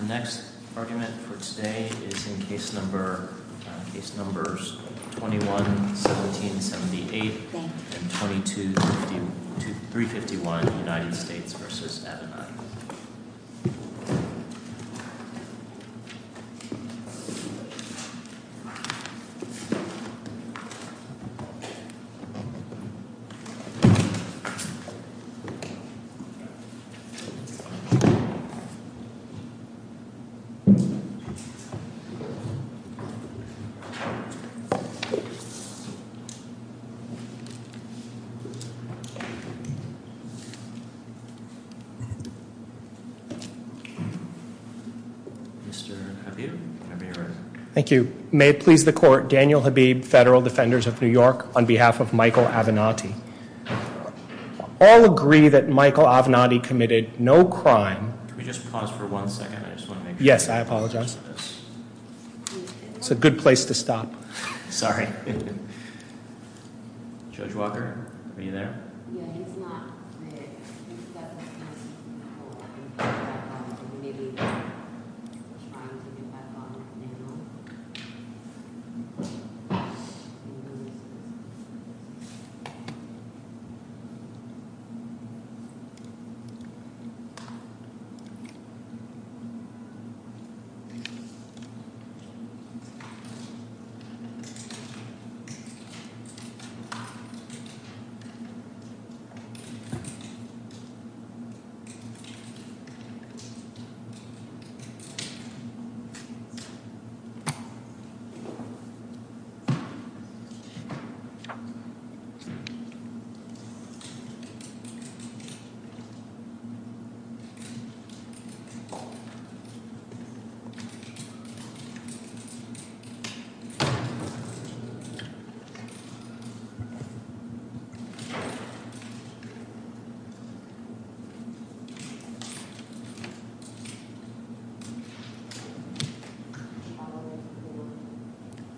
The next argument for today is in case numbers 21-1778 and 22-351 United States v. Avenatti May it please the court, Daniel Habib, Federal Defenders of New York, on behalf of Michael Avenatti All agree that Michael Avenatti committed no crime Could we just pause for one second? Yes, I apologize. It's a good place to stop. Sorry. Judge Walker, are you there? Yes, I'm here.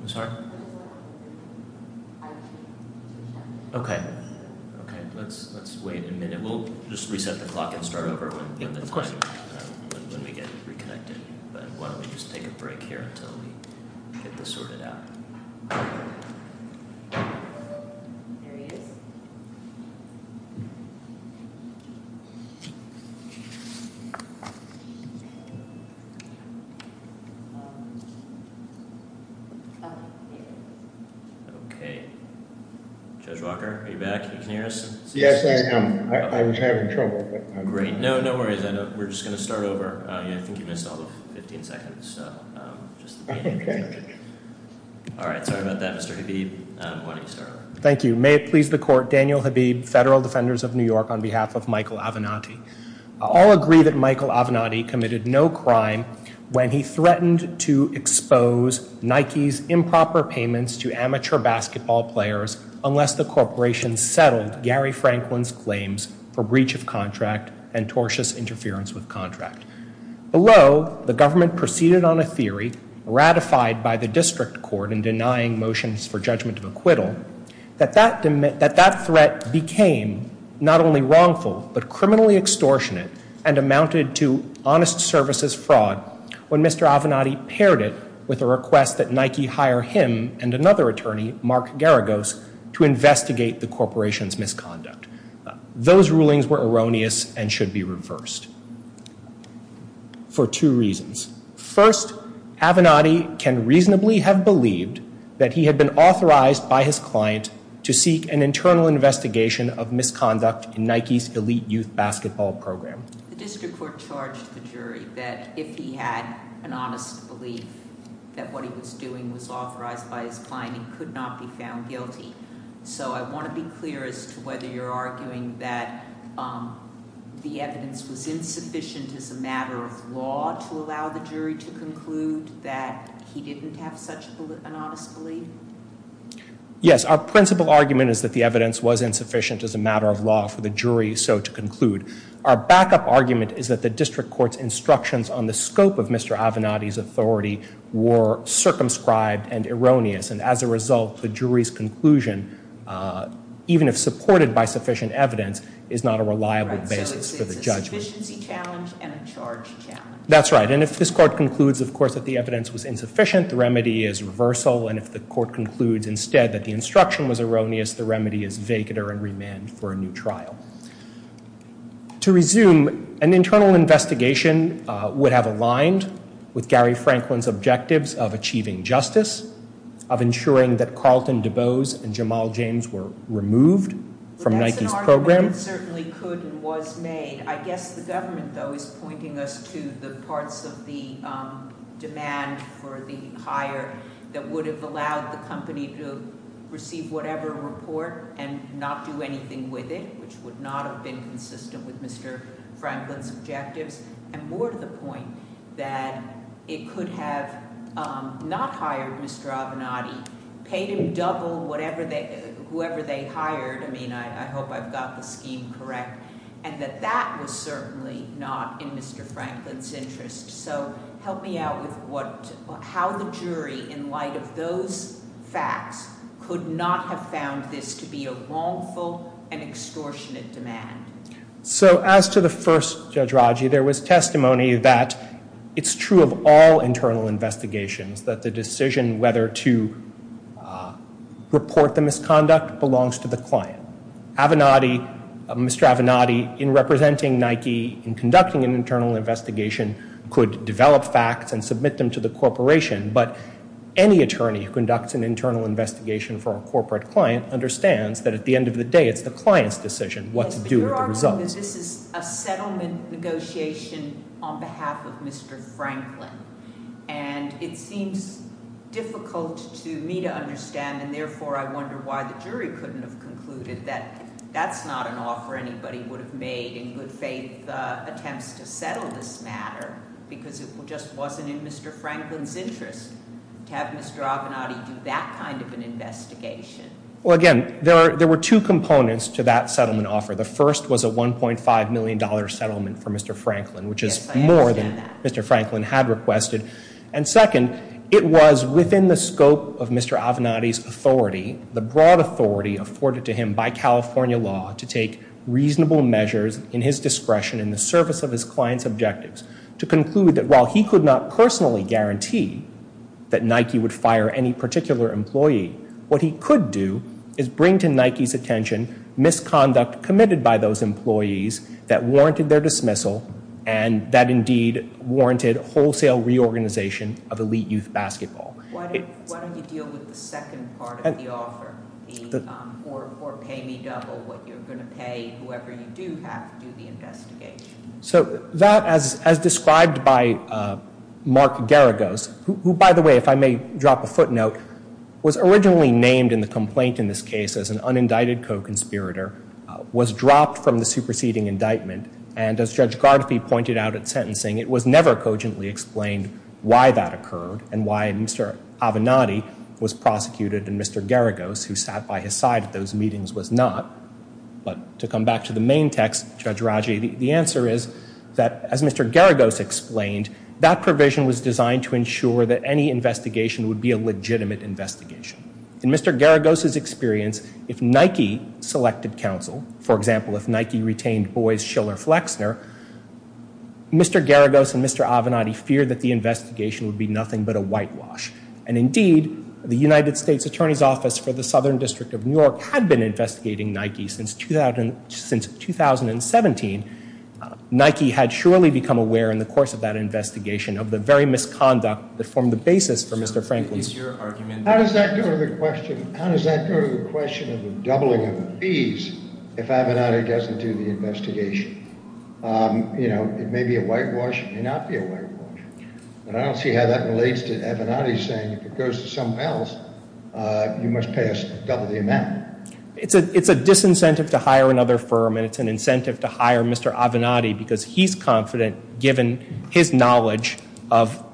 I'm sorry. Okay. Let's wait a minute. We'll just reset the clock and start over. Okay. Judge Walker, you're back. May it please the court, Daniel Habib, Federal Defenders of New York, on behalf of Michael Avenatti All agree that Michael Avenatti committed no crime when he threatened to expose Nike's improper payments to amateur basketball players unless the corporation settled Gary Franklin's claims for breach of contract and tortious interference with contract. Below, the government proceeded on a theory ratified by the district court in denying motions for judgment of acquittal that that threat became not only wrongful but criminally extortionate and amounted to honest services fraud when Mr. Avenatti paired it with a request that Nike hire him and another attorney, Mark Garagos, to investigate the corporation's misconduct. Those rulings were erroneous and should be reversed for two reasons. First, Avenatti can reasonably have believed that he had been authorized by his client to seek an internal investigation of misconduct in Nike's elite youth basketball program. The district court charged the jury that if he had an honest belief that what he was doing was authorized by his client, he could not be found guilty. So I want to be clear as to whether you're arguing that the evidence was insufficient as a matter of law to allow the jury to conclude that he didn't have such an honest belief? Yes, our principle argument is that the evidence was insufficient as a matter of law for the jury so to conclude. Our backup argument is that the district court's instructions on the scope of Mr. Avenatti's authority were circumscribed and erroneous, and as a result, the jury's conclusion, even if supported by sufficient evidence, is not a reliable basis for the judges. A deficiency challenge and a charge challenge. That's right, and if this court concludes, of course, that the evidence was insufficient, the remedy is reversal, and if the court concludes instead that the instruction was erroneous, the remedy is vacater and remand for a new trial. To resume, an internal investigation would have aligned with Gary Franklin's objectives of achieving justice, of ensuring that Carlton DuBose and Jamal James were removed from Nike's program. It certainly could and was made. I guess the government, though, is pointing us to the parts of the demand for the hire that would have allowed the company to receive whatever report and not do anything with it, which would not have been consistent with Mr. Franklin's objectives, and more to the point that it could have not hired Mr. Avenatti, paid in double whoever they hired, I mean, I hope I've got the scheme correct, and that that was certainly not in Mr. Franklin's interest. So help me out with how the jury, in light of those facts, could not have found this to be a wrongful and extortionate demand. So as to the first, Judge Rogge, there was testimony that it's true of all internal investigations that the decision whether to report the misconduct belongs to the client. Mr. Avenatti, in representing Nike, in conducting an internal investigation, could develop facts and submit them to the corporation, but any attorney who conducts an internal investigation for a corporate client understands that at the end of the day it's the client's decision what to do with the result. Your argument is this is a settlement negotiation on behalf of Mr. Franklin, and it seems difficult to me to understand, and therefore I wonder why the jury couldn't have concluded that that's not an offer anybody would have made in good faith attempts to settle this matter, because it just wasn't in Mr. Franklin's interest to have Mr. Avenatti do that kind of an investigation. Well, again, there were two components to that settlement offer. The first was a $1.5 million settlement for Mr. Franklin, which is more than Mr. Franklin had requested. And second, it was within the scope of Mr. Avenatti's authority, the broad authority afforded to him by California law, to take reasonable measures in his discretion in the service of his client's objectives to conclude that while he could not personally guarantee that Nike would fire any particular employee, what he could do is bring to Nike's attention misconduct committed by those employees that warranted their dismissal and that indeed warranted wholesale reorganization of elite youth basketball. Why don't you deal with the second part of the offer, the or pay me double what you're going to pay whoever you do have to do the investigation? So that, as described by Mark Geragos, who, by the way, if I may drop a footnote, was originally named in the complaint in this case as an unindicted co-conspirator, was dropped from the superseding indictment. And as Judge Garfi pointed out at sentencing, it was never cogently explained why that occurred and why Mr. Avenatti was prosecuted and Mr. Geragos, who sat by his side at those meetings, was not. But to come back to the main text, Judge Raggi, the answer is that, as Mr. Geragos explained, that provision was designed to ensure that any investigation would be a legitimate investigation. In Mr. Geragos' experience, if Nike selected counsel, for example, if Nike retained Boyce, Schiller, Flexner, Mr. Geragos and Mr. Avenatti feared that the investigation would be nothing but a whitewash. And indeed, the United States Attorney's Office for the Southern District of New York had been investigating Nike since 2017. Nike had surely become aware in the course of that investigation of the very misconduct that formed the basis for Mr. Franklin. How does that go to the question of the doubling of the fees if Avenatti doesn't do the investigation? You know, it may be a whitewash, it may not be a whitewash. And I don't see how that relates to Avenatti saying if it goes to someone else, you must pay us double the amount. It's a disincentive to hire another firm and it's an incentive to hire Mr. Avenatti because he's confident, given his knowledge of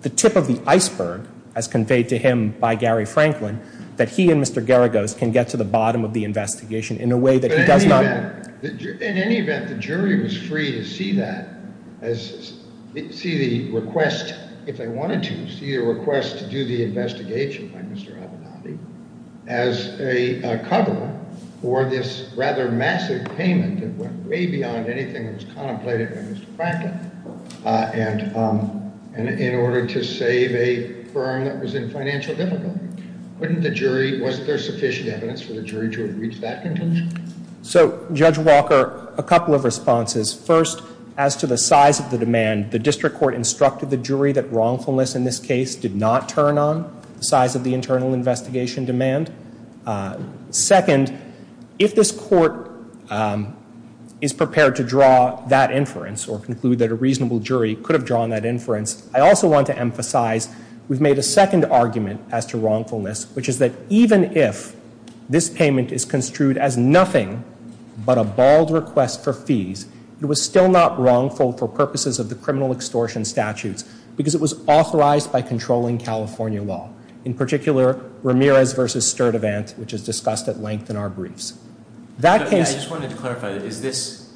the tip of the iceberg as conveyed to him by Gary Franklin, that he and Mr. Geragos can get to the bottom of the investigation in a way that he does not... In any event, the jury was free to see that as... see the request, if they wanted to see a request to do the investigation by Mr. Avenatti, as a cover for this rather massive payment that went way beyond anything that was contemplated by Mr. Franklin in order to save a firm that was in financial difficulty. Wasn't there sufficient evidence for the jury to have reached that conclusion? So, Judge Walker, a couple of responses. First, as to the size of the demand, the district court instructed the jury that wrongfulness in this case did not turn on the size of the internal investigation demand. Second, if this court is prepared to draw that inference or conclude that a reasonable jury could have drawn that inference, I also want to emphasize we've made a second argument as to wrongfulness, which is that even if this payment is construed as nothing but a bald request for fees, it was still not wrongful for purposes of the criminal extortion statutes because it was authorized by controlling California law. In particular, Ramirez v. Sturdivant, which is discussed at length in our briefs. I just wanted to clarify, is this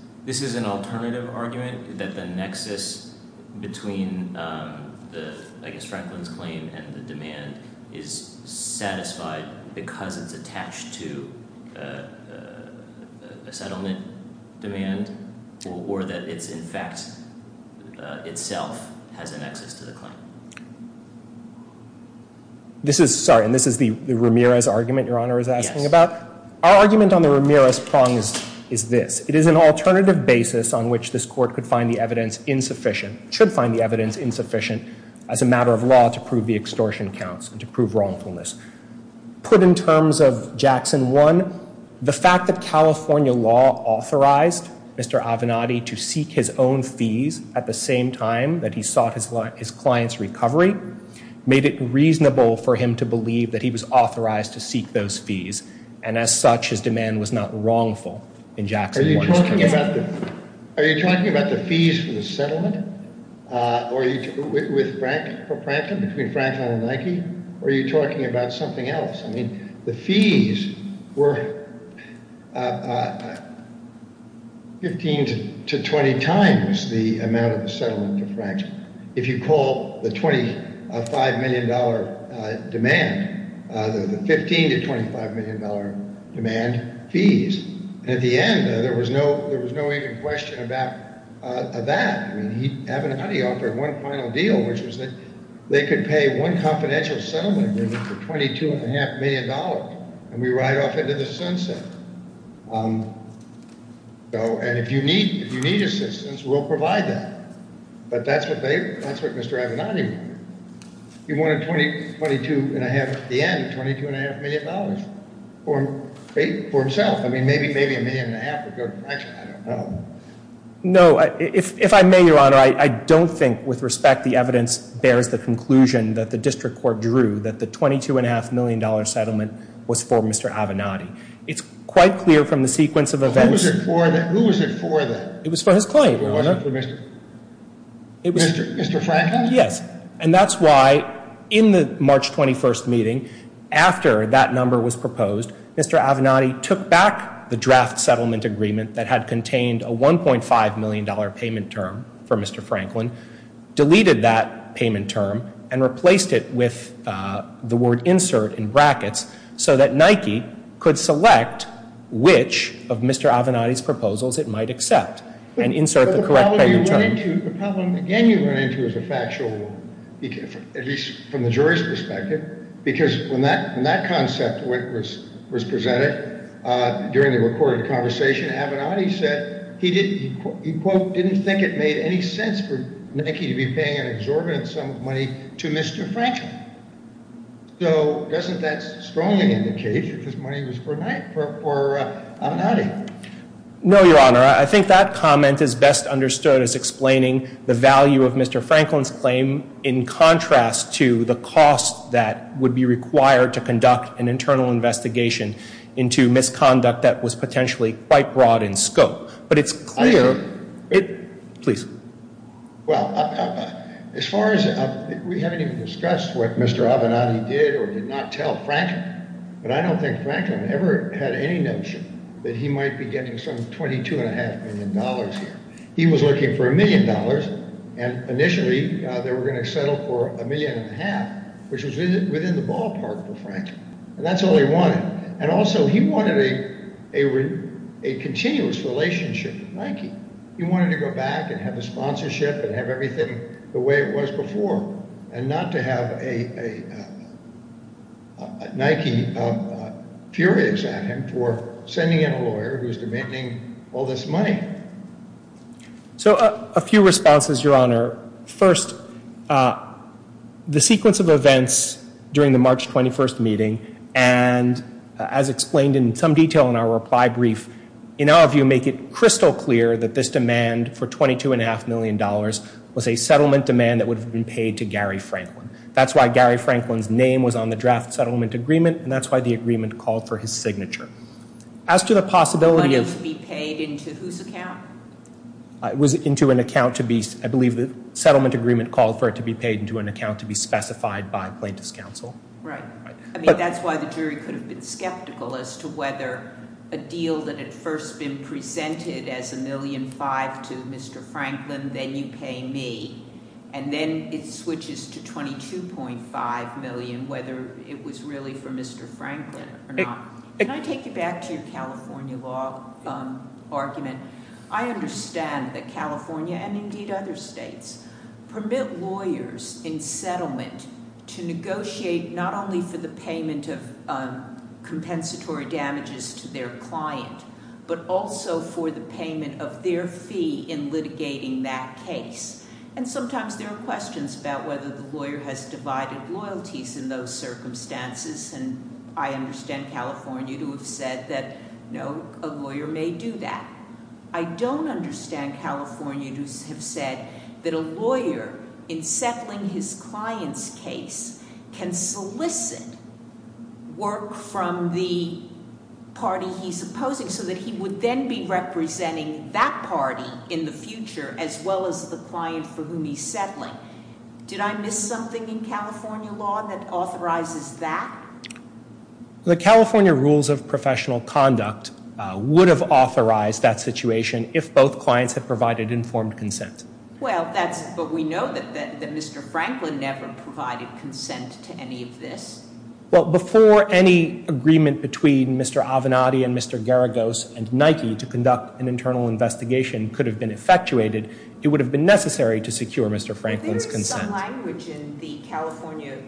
an alternative argument that the nexus between Franklin's claim and the demand is satisfied because it's attached to a settlement demand or that it's in fact itself has a nexus to the claim? This is, sorry, and this is the Ramirez argument Your Honor is asking about? Our argument on the Ramirez prongs is this. It is an alternative basis on which this court could find the evidence insufficient, should find the evidence insufficient as a matter of law to prove the extortion counts and to prove wrongfulness. Put in terms of Jackson 1, the fact that California law authorized Mr. Avenatti to seek his own fees at the same time that he sought his client's recovery, made it reasonable for him to believe that he was authorized to seek those fees. And as such, his demand was not wrongful in Jackson 1. Are you talking about the fees from the settlement? With Franklin, Franklin and Nike? Or are you talking about something else? I mean, the fees were 15 to 20 times the amount of the settlement to Franklin. If you call the $25 million demand, there was a 15 to $25 million demand fees. And at the end, there was no even question about that. And Avenatti offered one final deal, which was that they could pay one confidential settlement for $22.5 million and we ride off into the sunset. And if you need assistance, we'll provide that. But that's what Mr. Avenatti did. He wanted 22.5 at the end, $22.5 million for himself. I mean, maybe a million and a half, but I don't know. No, if I may, Your Honor, I don't think, with respect, the evidence bears the conclusion that the district court drew that the $22.5 million settlement was for Mr. Avenatti. It's quite clear from the sequence of events. Who was it for then? It was for his client, Your Honor. Mr. Franklin? Yes. And that's why, in the March 21st meeting, after that number was proposed, Mr. Avenatti took back the draft settlement agreement that had contained a $1.5 million payment term for Mr. Franklin, deleted that payment term, and replaced it with the word insert in brackets so that Nike could select which of Mr. Avenatti's proposals it might accept and insert the correct payment term. The problem you run into is a factual one, at least from the jury's perspective, because when that concept was presented during the recorded conversation, Avenatti said he didn't think it made any sense for Nike to be paying an exorbitant sum of money to Mr. Franklin. So isn't that strong an indication that this money was for Avenatti? No, Your Honor. I think that comment is best understood as explaining the value of Mr. Franklin's claim in contrast to the cost that would be required to conduct an internal investigation into misconduct that was potentially quite broad in scope. But it's clear it... Please. Well, as far as we haven't even discussed what Mr. Avenatti did or did not tell Franklin, but I don't think Franklin ever had any notion that he might be getting some 22 and a half million dollars here. He was looking for a million dollars, and initially they were going to settle for a million and a half, which was within the ballpark for Franklin. And that's all he wanted. And also, he wanted a continuous relationship with Nike. He wanted to go back and have a sponsorship and have everything the way it was before and not to have a Nike fury examining for sending in a lawyer who was preventing all this money. So, a few responses, Your Honor. First, the sequence of events during the March 21st meeting and as explained in some detail in our reply brief, in our view make it crystal clear that this demand for 22 and a half million dollars was a settlement demand that would have been paid to Gary Franklin. That's why Gary Franklin's name was on the draft settlement agreement, and that's why the agreement called for his signature. As to the possibility of... Was it to be paid into whose account? It was into an account to be, I believe, the settlement agreement called for it to be paid into an account to be specified by plaintiff's counsel. Right. I mean, that's why the jury could have been skeptical as to whether a deal that had first been presented as a million five to Mr. Franklin, then you pay me. And then it switches to 22.5 million, whether it was really for Mr. Franklin or not. Can I take you back to your California law argument? I understand that California, and indeed other states, permit lawyers in settlement to negotiate not only for the payment of compensatory damages to their client, but also for the payment of their fee in litigating that case. And sometimes there are questions about whether the lawyer has divided loyalties in those circumstances, and I understand California who have said that, no, a lawyer may do that. I don't understand California who have said that a lawyer, in settling his client's case, can solicit work from the party he's opposing so that he would then be representing that party in the future as well as the client for whom he's settling. Did I miss something in California law that authorizes that? The California rules of professional conduct would have authorized that situation if both clients had provided informed consent. Well, but we know that Mr. Franklin never provided consent to any of this. Well, before any agreement between Mr. Avenatti and Mr. Garagos and Nike to conduct an internal investigation could have been effectuated, it would have been necessary to secure Mr. Franklin's consent. But there is some language in the California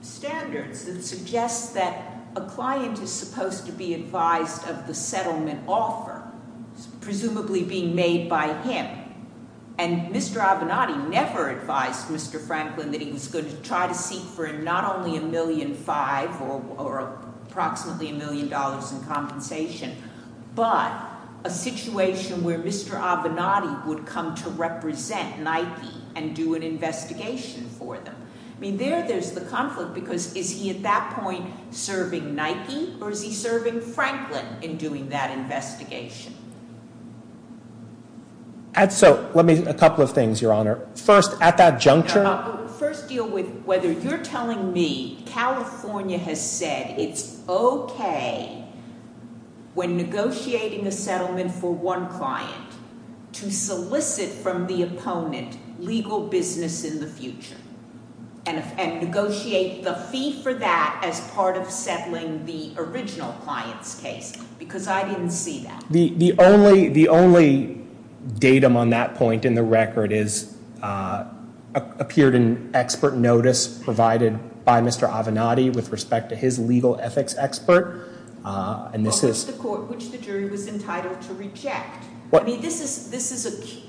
standards that suggests that a client is supposed to be advised of the settlement offer, presumably being made by him, and Mr. Avenatti never advised Mr. Franklin that he was going to try to seek for not only $1.5 million or approximately $1 million in compensation, but a situation where Mr. Avenatti would come to represent Nike and do an investigation for them. I mean, there's the conflict, because is he at that point serving Nike or is he serving Franklin in doing that investigation? So, let me, a couple of things, Your Honor. First, at that juncture... First deal with whether you're telling me California has said it's okay when negotiating a settlement for one client to solicit from the opponent legal business in the future and negotiate the fees for that as part of settling the original client's case, because I didn't see that. The only datum on that point in the record appeared in expert notice provided by Mr. Avenatti with respect to his legal ethics expert, and this is... Which the jury was entitled to reject. I mean, this is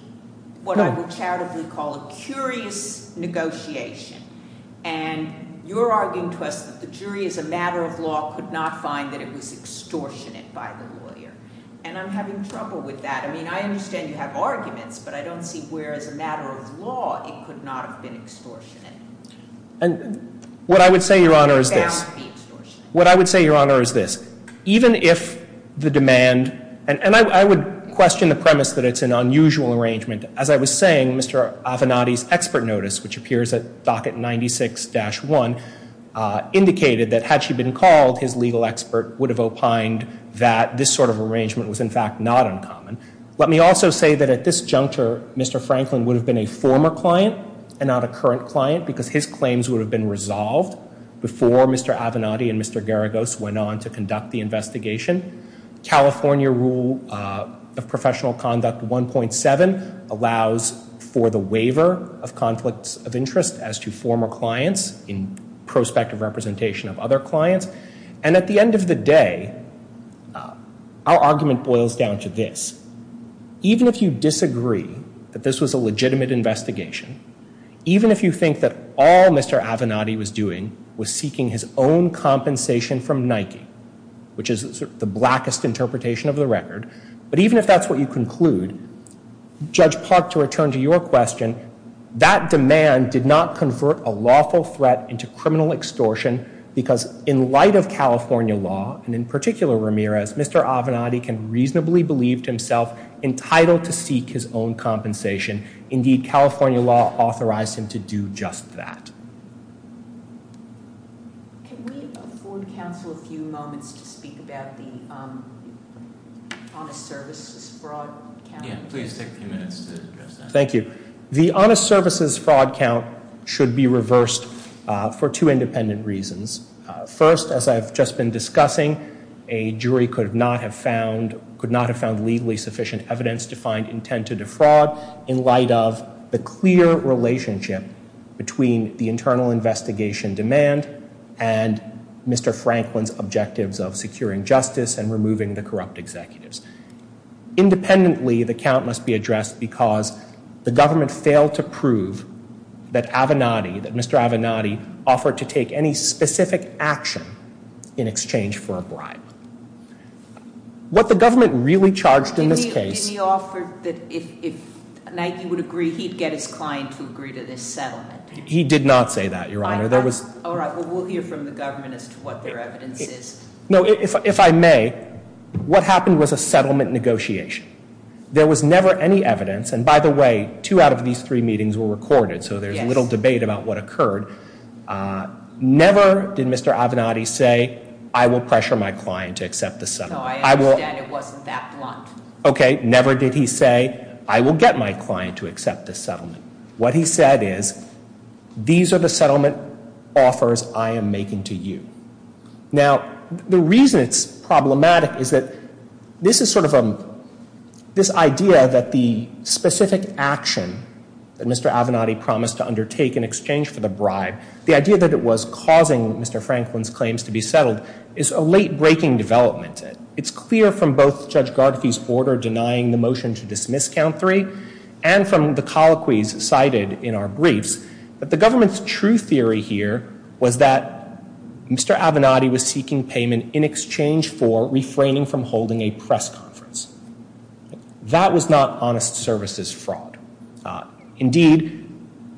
what I would charitably call a curious negotiation, and you're arguing to us that the jury as a matter of law could not find that it was extortionate by the lawyer, and I'm having trouble with that. I mean, I understand you have arguments, but I don't see where, as a matter of law, it could not have been extortionate. What I would say, Your Honor, is this. What I would say, Your Honor, is this. Even if the demand... And I would question the premise that it's an unusual arrangement. As I was saying, Mr. Avenatti's expert notice, which appears at docket 96-1, indicated that had she been called, his legal expert would have opined that this sort of arrangement was, in fact, not uncommon. Let me also say that at this juncture, Mr. Franklin would have been a former client and not a current client, because his claims would have been resolved before Mr. Avenatti and Mr. Garagos went on to conduct the investigation. California Rule of Professional Conduct 1.7 allows for the waiver of conflicts of interest as to former clients in prospect of representation of other clients. And at the end of the day, our argument boils down to this. Even if you disagree that this was a legitimate investigation, even if you think that all Mr. Avenatti was doing was seeking his own compensation from Nike, which is the blackest interpretation of the record, but even if that's what you conclude, Judge Park, to return to your question, that demand did not convert a lawful threat into criminal extortion, because in light of California law, and in particular Ramirez, Mr. Avenatti can reasonably believe himself entitled to seek his own compensation. Indeed, California law authorized him to do just that. Thank you. The honest services fraud count should be reversed for two independent reasons. First, as I've just been discussing, a jury could not have found could not have found legally sufficient evidence to find intent to defraud in light of the clear relationship between the internal investigation demand and Mr. Franklin's objectives of securing justice and removing the corrupt executives. Independently, the count must be addressed because the government failed to prove that Mr. Avenatti offered to take any specific action in exchange for a bribe. What the government really charged in this case... Did he offer that he'd get his clients to agree to this settlement? He did not say that, Your Honor. All right, well, we'll hear from the government as to what their evidence is. No, if I may, what happened was a settlement negotiation. There was never any evidence, and by the way, two out of these three meetings were recorded, so there's little debate about what occurred. Never did Mr. Avenatti say, I will pressure my client to accept the settlement. No, I understand it wasn't that blunt. Okay, never did he say, I will get my client to accept the settlement. What he said is, these are the settlement offers I am making to you. Now, the reason it's problematic is that this is sort of this idea that the specific action that Mr. Avenatti promised to undertake in exchange for the bribe, the idea that it was causing Mr. Franklin's claims to be settled, is a late-breaking development. It's clear from both Judge Garfield's order denying the motion to dismiss Count Three and from the colloquies cited in our briefs that the government's true theory here was that Mr. Avenatti was seeking payment in exchange for refraining from holding a press conference. That was not honest services fraud. Indeed,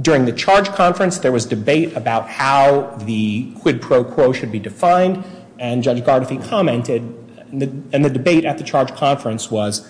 during the charge conference, there was debate about how the quid pro quo should be defined, and Judge Garfield commented, and the debate at the charge conference was,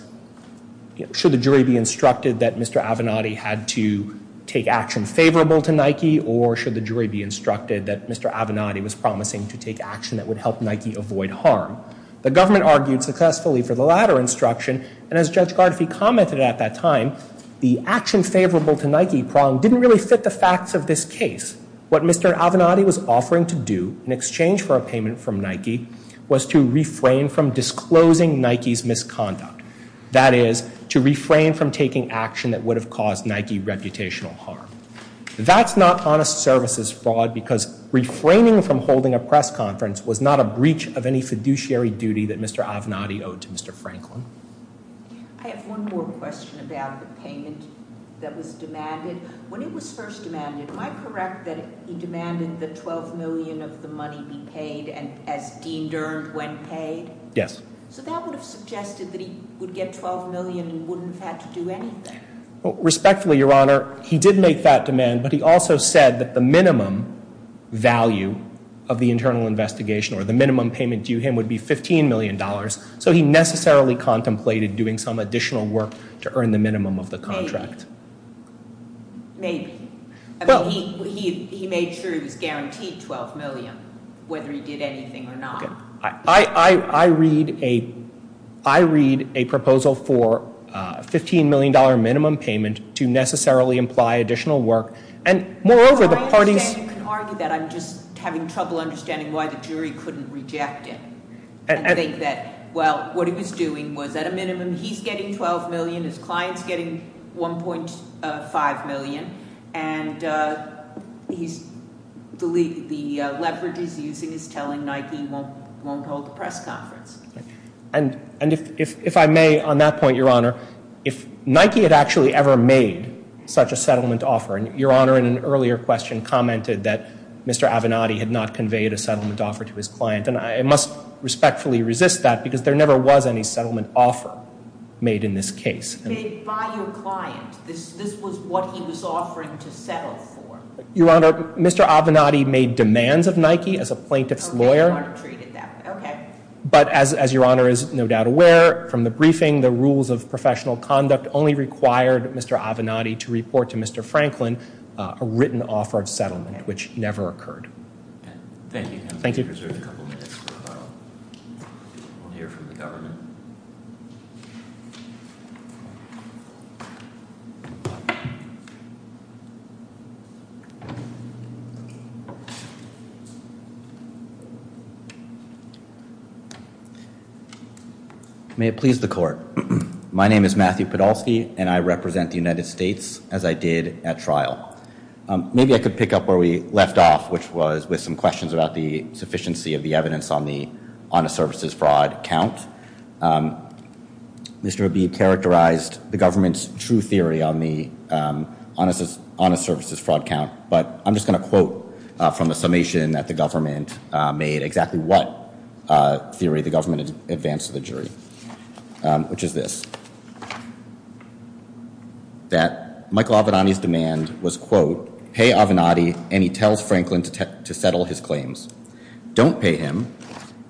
should the jury be instructed that Mr. Avenatti had to take action favorable to Nike, or should the jury be instructed that Mr. Avenatti was promising to take action that would help Nike avoid harm? The government argued successfully for the latter instruction, and as Judge Garfield commented at that time, the action favorable to Nike problem didn't really fit the facts of this case. What Mr. Avenatti was offering to do in exchange for a payment from Nike was to refrain from disclosing Nike's misconduct. That is, to refrain from taking action that would have caused Nike reputational harm. That's not honest services fraud because refraining from holding a press conference was not a breach of any fiduciary duty that Mr. Avenatti owed to Mr. Franklin. I have one more question about the payment that was demanded. When it was first demanded, am I correct that he demanded that $12 million of the money be paid as Dean Dern went pay? Yes. So that would have suggested that he would get $12 million and he wouldn't have to do anything. Respectfully, Your Honor, he did make that demand, but he also said that the minimum value of the internal investigation, or the minimum payment due him, would be $15 million, so he necessarily contemplated doing some additional work to earn the minimum of the contract. Maybe. I mean, he made sure he was guaranteed $12 million, whether he did anything or not. I read a proposal for a $15 million minimum payment to necessarily imply additional work, and moreover, the parties... You can argue that. I'm just having trouble understanding why the jury couldn't reject it and think that, well, what he was doing was at a minimum, he's getting $12 million, his client's getting $1.5 million, and he believes the leverage he's using is telling Nike he won't hold a press conference. And if I may, on that point, Your Honor, if Nike had actually ever made such a settlement offer, and Your Honor, in an earlier question, commented that Mr. Avenatti had not conveyed a settlement offer to his client, then I must respectfully resist that because there never was any settlement offer made in this case. Made by your client. This was what he was offering to settle for. Your Honor, Mr. Avenatti made demands of Nike as a plaintiff's lawyer. Okay. But as Your Honor is no doubt aware, from the briefing, the rules of professional conduct only required Mr. Avenatti to report to Mr. Franklin a written offer of settlement, which never occurred. Thank you. Thank you, Mr. Chairman. May it please the Court. My name is Matthew Podolsky, and I represent the United States, as I did at trial. Maybe I could pick up where we left off, which was with some questions about the sufficiency of the evidence on the honest services fraud count. Mr. Rabin characterized the government's true theory on the honest services fraud count, but I'm just going to quote from a summation that the government made exactly what theory the government advanced to the jury, which is this. That Michael Avenatti's demand was, quote, Pay Avenatti, and he tells Franklin to settle his claims. Don't pay him,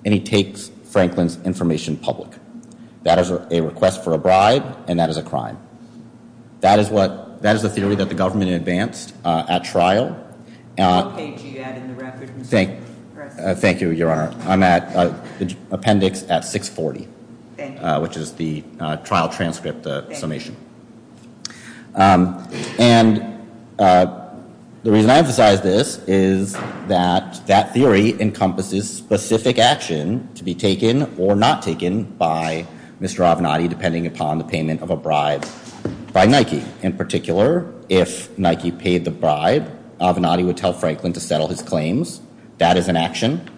and he takes Franklin's information public. That is a request for a bribe, and that is a crime. That is the theory that the government advanced at trial. Thank you, Your Honor. I'm at appendix 640, which is the trial transcript summation. And the reason I emphasize this is that that theory encompasses specific action to be taken or not taken by Mr. Avenatti, depending upon the payment of a bribe by Nike. In particular, if Nike paid the bribe, Avenatti would tell Franklin to settle his claims. That is an action,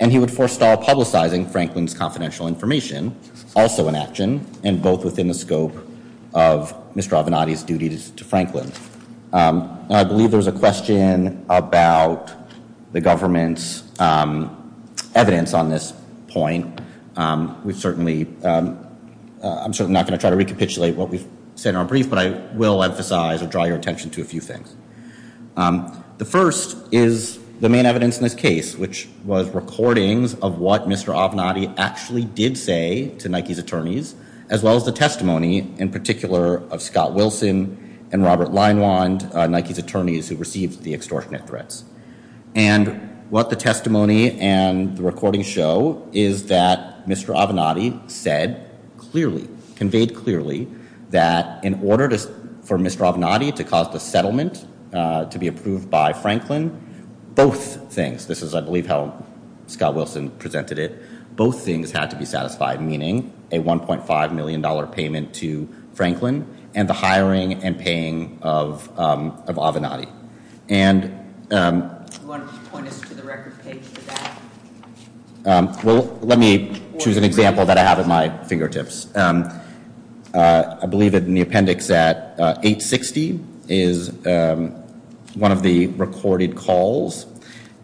and he would forestall publicizing Franklin's confidential information, also an action, and both within the scope of Mr. Avenatti's duties to Franklin. I believe there's a question about the government's evidence on this point. We've certainly... I'm certainly not going to try to recapitulate what we've said in our brief, but I will emphasize or draw your attention to a few things. The first is the main evidence in this case, which was recordings of what Mr. Avenatti actually did say to Nike's attorneys, as well as the testimony, in particular, of Scott Wilson and Robert Leinwand, Nike's attorneys who received the extortionate threats. And what the testimony and the recordings show is that Mr. Avenatti said clearly, conveyed clearly, that in order for Mr. Avenatti to cause the settlement to be approved by Franklin, both things, which is, I believe, how Scott Wilson presented it, both things had to be satisfied, meaning a $1.5 million payment to Franklin and the hiring and paying of Avenatti. And... Well, let me choose an example that I have at my fingertips. I believe in the appendix that 860 is one of the recorded calls.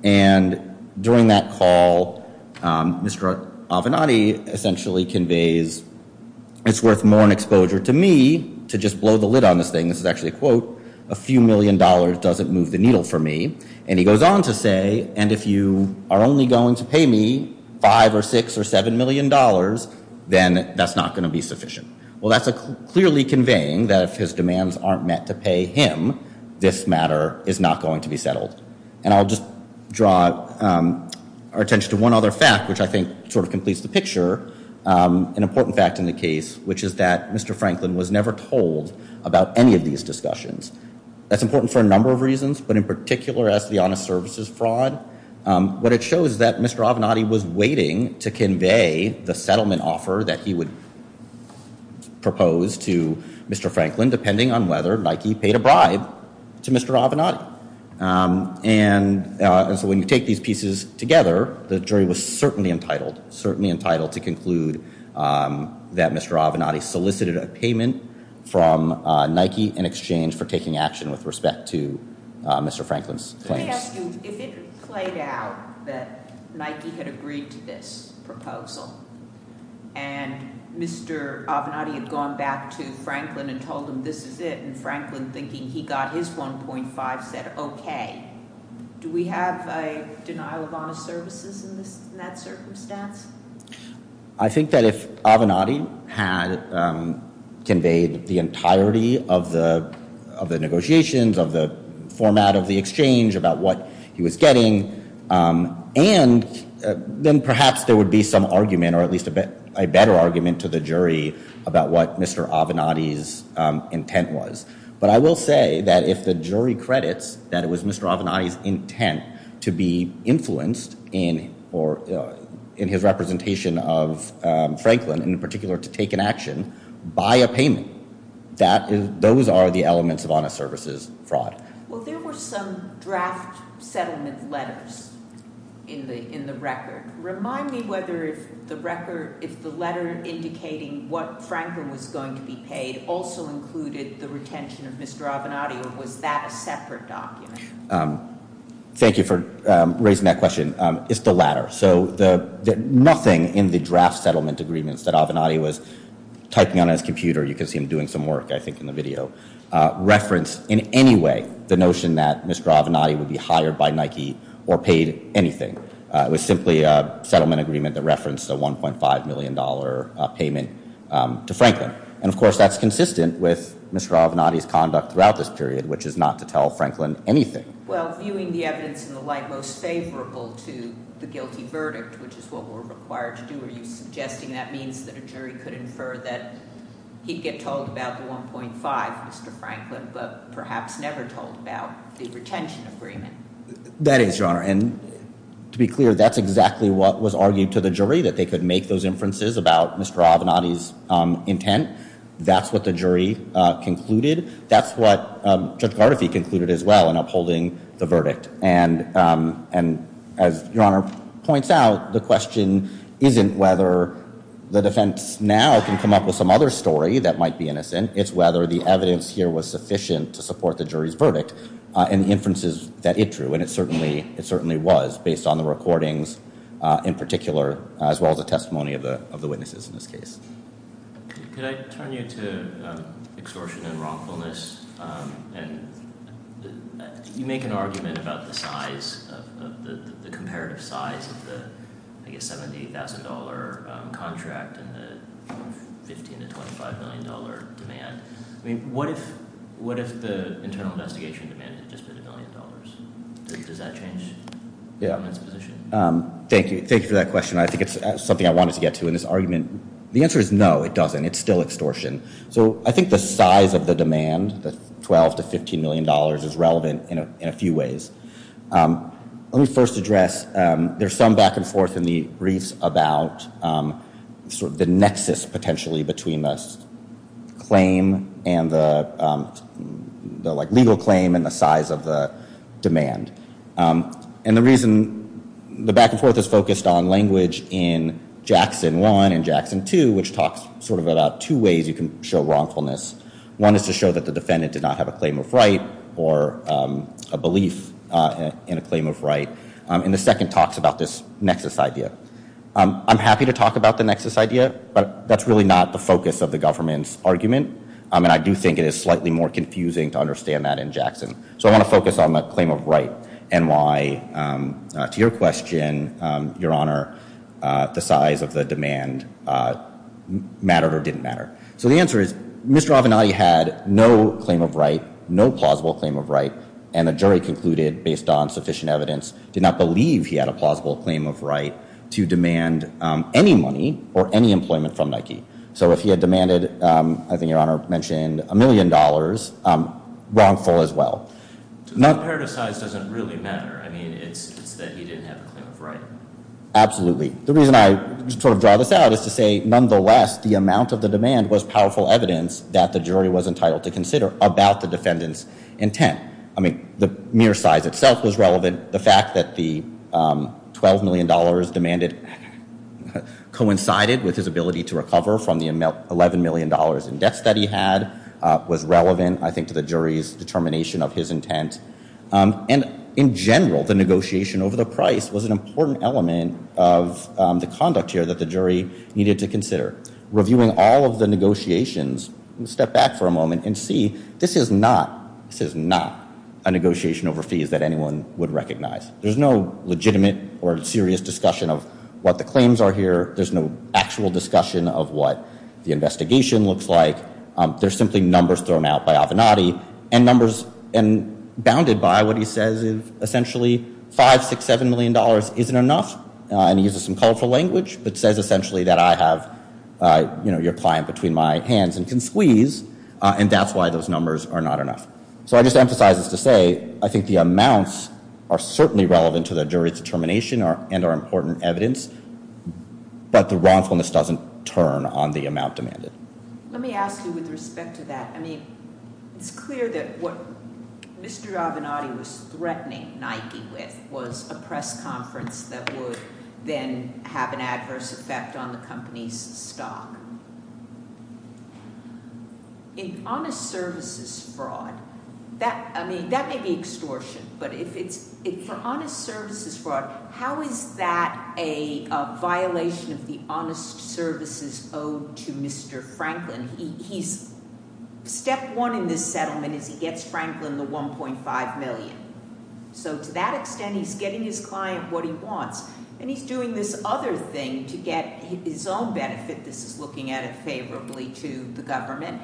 And during that call, Mr. Avenatti essentially conveys it's worth more exposure to me to just blow the lid on this thing. This is actually a quote. A few million dollars doesn't move the needle for me. And he goes on to say, and if you are only going to pay me five or six or seven million dollars, then that's not going to be sufficient. Well, that's clearly conveying that if his demands aren't meant to pay him, this matter is not going to be settled. And I'll just draw our attention to one other fact, which I think sort of completes the picture. An important fact in the case, which is that Mr. Franklin was never told about any of these discussions. That's important for a number of reasons, but in particular as to the honest services fraud, what it shows is that Mr. Avenatti was waiting to convey the settlement offer that he would propose to Mr. Franklin, depending on whether he paid a bribe to Mr. Avenatti. And so when you take these pieces together, the jury was certainly entitled to conclude that Mr. Avenatti solicited a payment from Nike in exchange for taking action with respect to Mr. Franklin's claims. If it played out that Nike had agreed to this proposal and Mr. Avenatti had gone back to Franklin and told him this is it, and Franklin thinking he got his 1.5 said okay. Do we have a denial of honest services in that circumstance? I think that if Avenatti had conveyed the entirety of the negotiations, of the format of the exchange about what he was getting, and then perhaps there would be some argument, or at least a better argument to the jury about what Mr. Avenatti's intent was. But I will say that if the jury credits that it was Mr. Avenatti's intent to be influenced in his representation of Franklin, in particular to take an action, by a payment, those are the elements of honest services fraud. Well, there were some draft settlement letters in the record. Remind me whether the record, if the letter indicating what is the retention of Mr. Avenatti, was that a separate document? Thank you for raising that question. It's the latter. Nothing in the draft settlement agreements that Avenatti was typing on his computer, you can see him doing some work, I think, in the video, referenced in any way the notion that Mr. Avenatti would be hired by Nike or paid anything. It was simply a settlement agreement that referenced the $1.5 million payment to Franklin. And, of course, that's consistent with Mr. Avenatti's conduct throughout this period, which is not to tell Franklin anything. Well, viewing the evidence in the light most favorable to the guilty verdict, which is what we're required to do as he's suggesting, that means that a jury could infer that he'd get told about the $1.5, Mr. Franklin, but perhaps never told about the retention agreement. That is, Your Honor, and to be clear, that's exactly what was argued to the jury, that they could make those inferences about Mr. Avenatti's intent. That's what the jury concluded. That's what Judge Vardife concluded as well in upholding the verdict. And as Your Honor points out, the question isn't whether the defense now can come up with some other story that might be innocent, it's whether the evidence here was sufficient to support the jury's verdict and the inferences that it drew. And it certainly was, based on the recordings, in particular, as well as the testimony of the witnesses in this case. Could I turn you to extortion and wrongfulness? You make an argument about the size, the comparative size of the $70,000 contract and the $15 to $25 million demand. What if the internal investigation demands just a billion dollars? Does that change? Yeah. Thank you for that question. I think it's something I wanted to get to in this argument. The answer is no, it doesn't. It's still extortion. So I think the size of the demand, the $12 to $15 million is relevant in a few ways. Let me first address there's some back and forth in the briefs about the nexus, potentially, between this claim and the legal claim and the size of the claim. And the reason the back and forth is focused on language in Jackson 1 and Jackson 2, which talks about two ways you can show wrongfulness. One is to show that the defendant does not have a claim of right or a belief in a claim of right. And the second talks about this nexus idea. I'm happy to talk about the nexus idea, but that's really not the focus of the government's argument. And I do think it is slightly more confusing to understand that in Jackson. So I want to focus on the claim of right and why, to your question, Your Honor, the size of the demand mattered or didn't matter. So the answer is, Mr. Offenheide had no claim of right, no plausible claim of right, and the jury concluded, based on sufficient evidence, did not believe he had a plausible claim of right to demand any money or any employment from Nike. So if he had demanded, I think Your Honor mentioned, a million dollars, it was wrongful as well. So the amount compared to size doesn't really matter. I mean, it's that he didn't have a claim of right. Absolutely. The reason I sort of draw this out is to say nonetheless, the amount of the demand was powerful evidence that the jury was entitled to consider about the defendant's intent. I mean, the mere size itself was relevant. The fact that the $12 million demanded coincided with his ability to recover from the $11 million in debt that he had was relevant, I think, to the jury's determination of his intent. And in general, the negotiation over the price was an important element of the conduct here that the jury needed to consider. Reviewing all of the negotiations, step back for a moment and see, this is not a negotiation over fees that anyone would recognize. There's no legitimate or serious discussion of what the claims are here. There's no actual discussion of what the investigation looks like. There's simply numbers thrown out by Avenatti, and numbers bounded by what he says is essentially $5, $6, $7 million isn't enough. And he uses some colorful language that says essentially that I have your client between my hands and can squeeze, and that's why those numbers are not enough. So I just emphasize this to say, I think the amounts are certainly relevant to the jury's determination and are important evidence, but the wrongfulness doesn't turn on the amount demanded. Let me ask you with respect to that, I mean, it's clear that what Mr. Avenatti was threatening Nike with was a press conference that would then have an adverse effect on the company's stock. In honest services fraud, I mean, that may be extortion, but in honest services fraud, how is that a violation of the honest services owed to Mr. Franklin? He's step one in this settlement is he gets Franklin the $1.5 million. So to that extent, he's getting his client what he wants, and he's doing this other thing to get his own benefits, looking at it favorably to the government,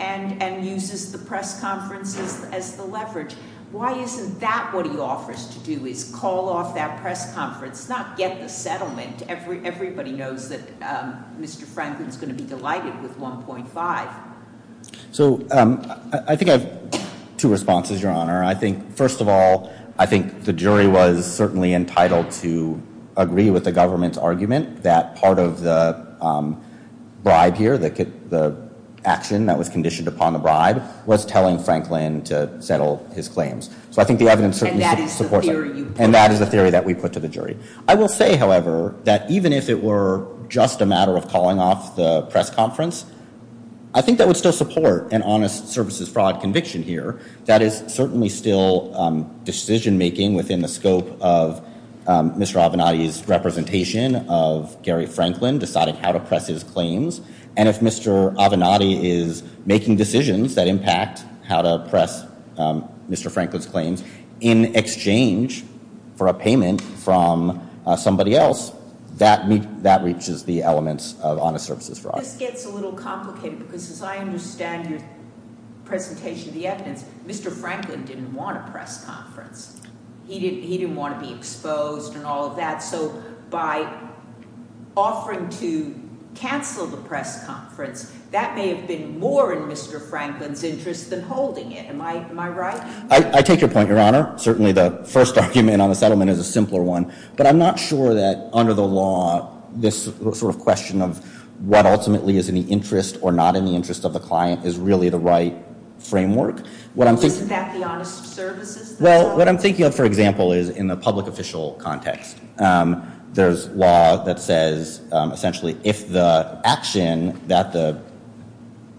and uses the press conferences as a leverage. Why isn't that what he offers to do, is call off that press conference, not get the settlement. Everybody knows that Mr. Franklin is going to be delighted with $1.5. So, I think I have two responses, Your Honor. I think, first of all, I think the jury was certainly entitled to agree with the government's argument that part of the bribe here, the action that was conditioned upon the bribe, was telling Franklin to settle his claims. And that is the theory. And that is the theory that we put to the jury. I will say, however, that even if it were just a matter of calling off the press conference, I think that would still support an honest services fraud conviction here. That is certainly still decision making within the scope of Mr. Avenatti's representation of Gary Franklin deciding how to press his claims, and if Mr. Avenatti is making decisions that impact how to press Mr. Franklin's claims in exchange for a payment from somebody else, that reaches the elements of honest services fraud. This gets a little complicated, because as I understand the presentation of the evidence, Mr. Franklin didn't want a press conference. He didn't want to be exposed and all of that. So, by offering to cancel the press conference, that may have been more in Mr. Franklin's interest than holding it. Am I right? I take your point, Your Honor. Certainly, the first document on the settlement is a simpler one. But I'm not sure that under the law, this sort of question of what ultimately is in the interest or not in the interest of the client is really the right framework. Is that the honest services? Well, what I'm thinking of, for example, is in the public official context. There's law that says, essentially, if the action that the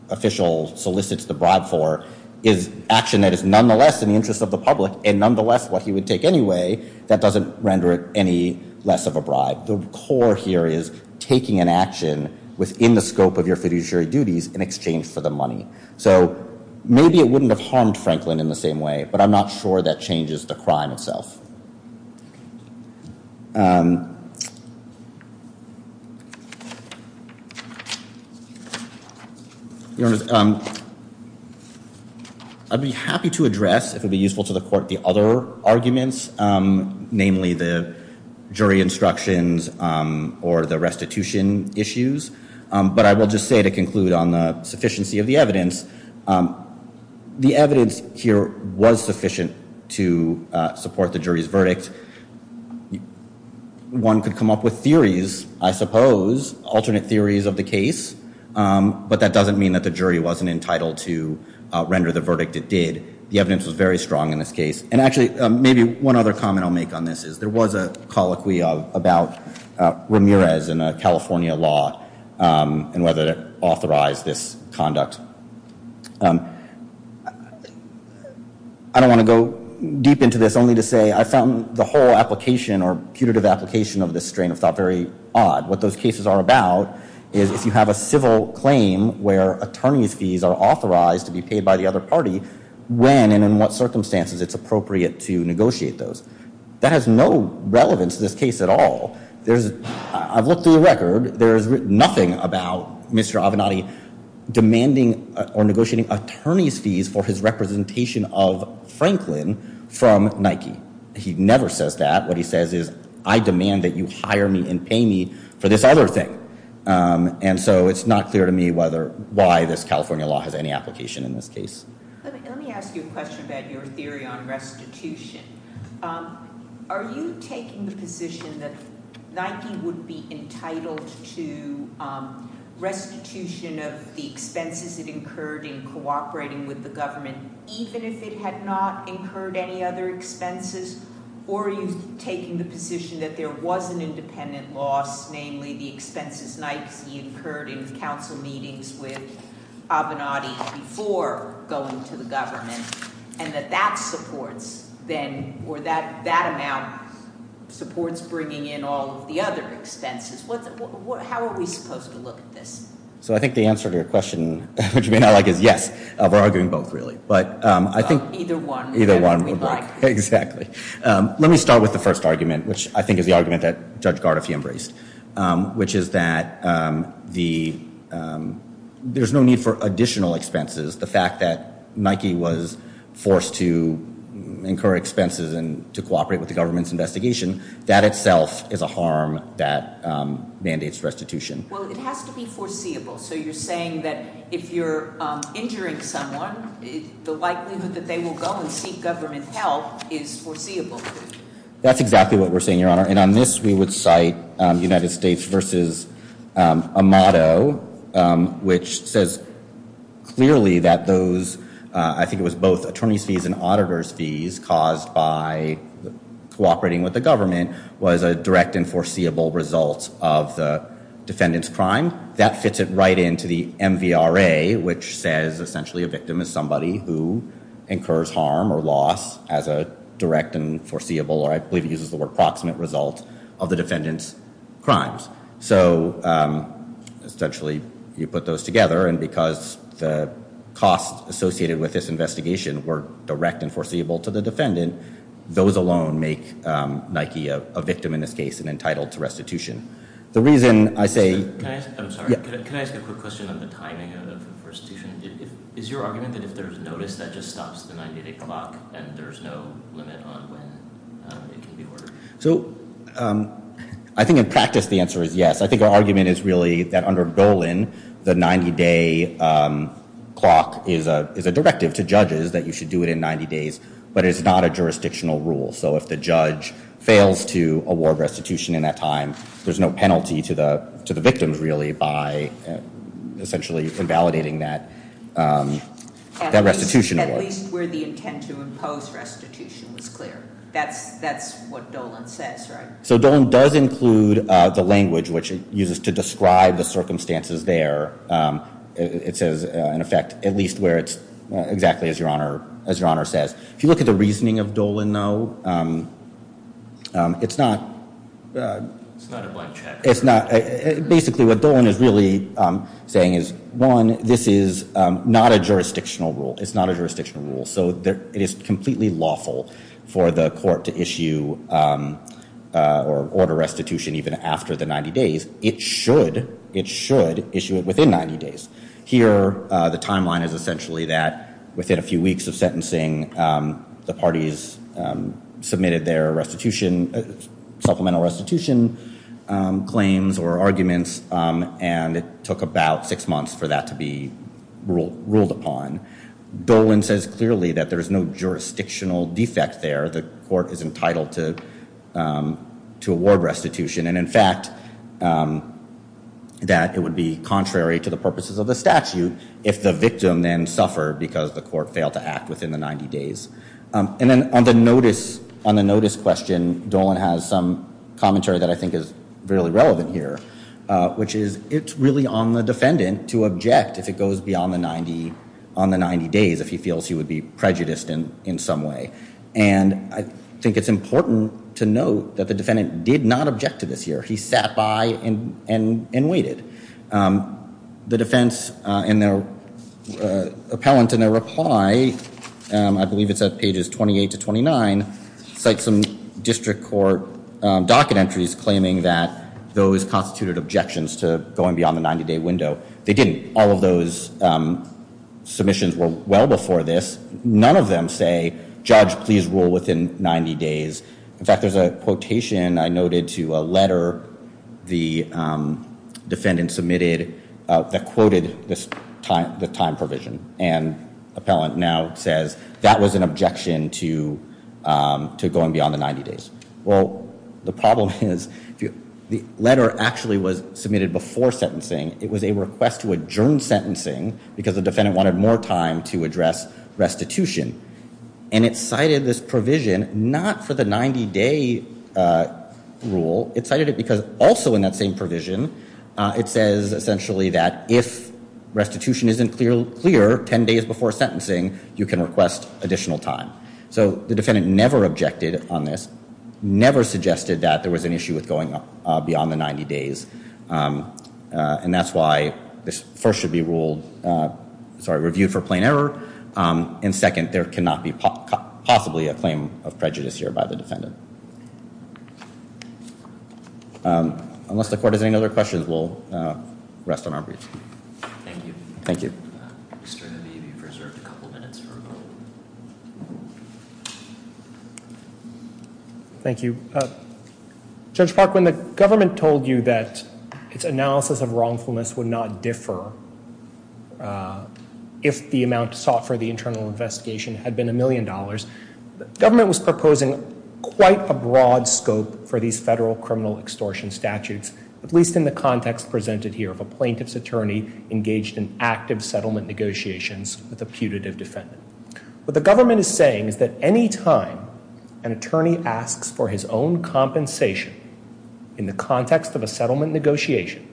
official solicits the bribe for is action that is nonetheless in the interest of the public, and nonetheless what he would take anyway, that doesn't render it any less of a bribe. The core here is taking an action within the scope of your fiduciary duties in exchange for the money. So, maybe it wouldn't have harmed Franklin in the same way, but I'm not sure that changes the crime itself. Your Honor, I'd be happy to address, if it would be useful to the court, the other arguments, mainly the jury instructions or the restitution issues. But I will just say to conclude on the sufficiency of the evidence, the evidence here was sufficient to support the jury's verdict. One could come up with theories, I suppose, alternate theories of the case, but that doesn't mean that the jury wasn't entitled to render the verdict it did. The evidence was very strong in this case. And actually, maybe one other comment I'll make on this is there was a colloquy about Ramirez and the California law and whether it authorized this conduct. I don't want to go deep into this, only to say I found the whole application or putative application of this strain of thought very odd. What those cases are about is if you have a civil claim where attorney's fees are authorized to be paid by the other party, when and in what circumstances it's appropriate to negotiate those. That has no relevance to this case at all. I've looked through the record. There's nothing about Mr. Avenatti demanding or negotiating attorney's fees for his representation of Franklin from Nike. He never says that. What he says is, I demand that you hire me and pay me for this other thing. And so it's not clear to me why this California law has any application in this case. Let me ask you a question about your theory on restitution. Are you taking the position that Nike would be entitled to restitution of the expenses it incurred in cooperating with the government, even if it had not incurred any other expenses? Or are you taking the position that there was an independent law, namely the expenses Nike incurred in council meetings with Avenatti before going to the government and that that supports then, or that amount supports bringing in all of the other expenses? How are we supposed to look at this? So I think the answer to your question, which you may not like it yet, we're arguing both, really. Either one. Exactly. Let me start with the first argument, which I think is the argument that Judge Gardoff embraced, which is that there's no need for additional expenses. The fact that Nike was forced to incur expenses and to cooperate with the government's investigation, mandates restitution. Well, it has to be foreseeable. So you're saying that if you're injuring someone, the likelihood that they will go and seek government help is foreseeable. That's exactly what we're saying, Your Honor. And on this, we would cite United States v. Amato, which says clearly that those, I think it was both attorneys' fees and auditors' fees caused by cooperating with the government was a direct and foreseeable result of the defendant's crime. That fits it right into the MVRA, which says essentially a victim is somebody who incurs harm or loss as a direct and foreseeable, or I believe he uses the word approximate, result of the defendant's crimes. So essentially, you put those together, and because the costs associated with this investigation were direct and foreseeable to the defendant, those alone make Nike a victim in this case and entitled to restitution. The reason I say... I'm sorry. Can I ask a quick question on the timing of the first season? Is your argument that if there's notice, that just stops the 90-day clock and there's no limit on when it can be worked? So, I think in practice, the answer is yes. I think our argument is really that under Bolin, the 90-day clock is a directive to judges that you should do it in 90 days, but it's not a jurisdictional rule. So if the judge fails to do it, there's no penalty to the victim, really, by essentially invalidating that restitution. At least where the intent to impose restitution is clear. That's what Dolan says, right? So Dolan does include the language which it uses to describe the circumstances there. It says, in effect, at least where it's exactly as your Honor says. If you look at the reasoning of Dolan, though, it's not a blank check. Basically, what Dolan is really saying is, one, this is not a jurisdictional rule. It's not a jurisdictional rule. So it is completely lawful for the court to issue or order restitution even after the 90 days. It should issue it within 90 days. Here, the timeline is essentially that within a few weeks of sentencing, the parties submitted their supplemental restitution claims or arguments, and it took about six months for that to be ruled upon. Dolan says clearly that there's no jurisdictional defect there. The court is entitled to award restitution, and in fact, that it would be contrary to the purposes of the statute if the victim then suffered because the court failed to act within the 90 days. And then on the notice question, Dolan has some commentary that I think is really relevant here, which is it's really on the defendant to object if it goes beyond the 90 days if he feels he would be prejudiced in some way. And I think it's important to note that the defendant did not object to this here. He sat by and waited. The defense and their appellant and their defense said pages 28 to 29 cite some district court docket entries claiming that those prosecuted objections to going beyond the 90-day window, they didn't. All of those submissions were well before this. None of them say, Judge, please rule within 90 days. In fact, there's a quotation I noted to a letter the defendant submitted that quoted the time provision, and there was an objection to going beyond the 90 days. Well, the problem is the letter actually was submitted before sentencing. It was a request to adjourn sentencing because the defendant wanted more time to address restitution. And it cited this provision not for the 90-day rule. It cited it because also in that same provision, it says essentially that if restitution isn't clear 10 days before sentencing, you can request additional time. So the defendant never objected on this, never suggested that there was an issue with going beyond the 90 days. And that's why this first should be reviewed for plain error, and second, there cannot be possibly a claim of prejudice here by the defendant. Unless the court has any other questions, we'll rest on our briefs. Thank you. Thank you. Judge Farquhar, when the government told you that its analysis of wrongfulness would not differ if the amount sought for the internal investigation had been a million dollars, the government was proposing quite a broad scope for these federal criminal extortion statutes, at least in the context presented here, a plaintiff's attorney engaged in active settlement negotiations with a putative defendant. What the government is saying is that any time an attorney asks for his own compensation in the context of a settlement negotiation,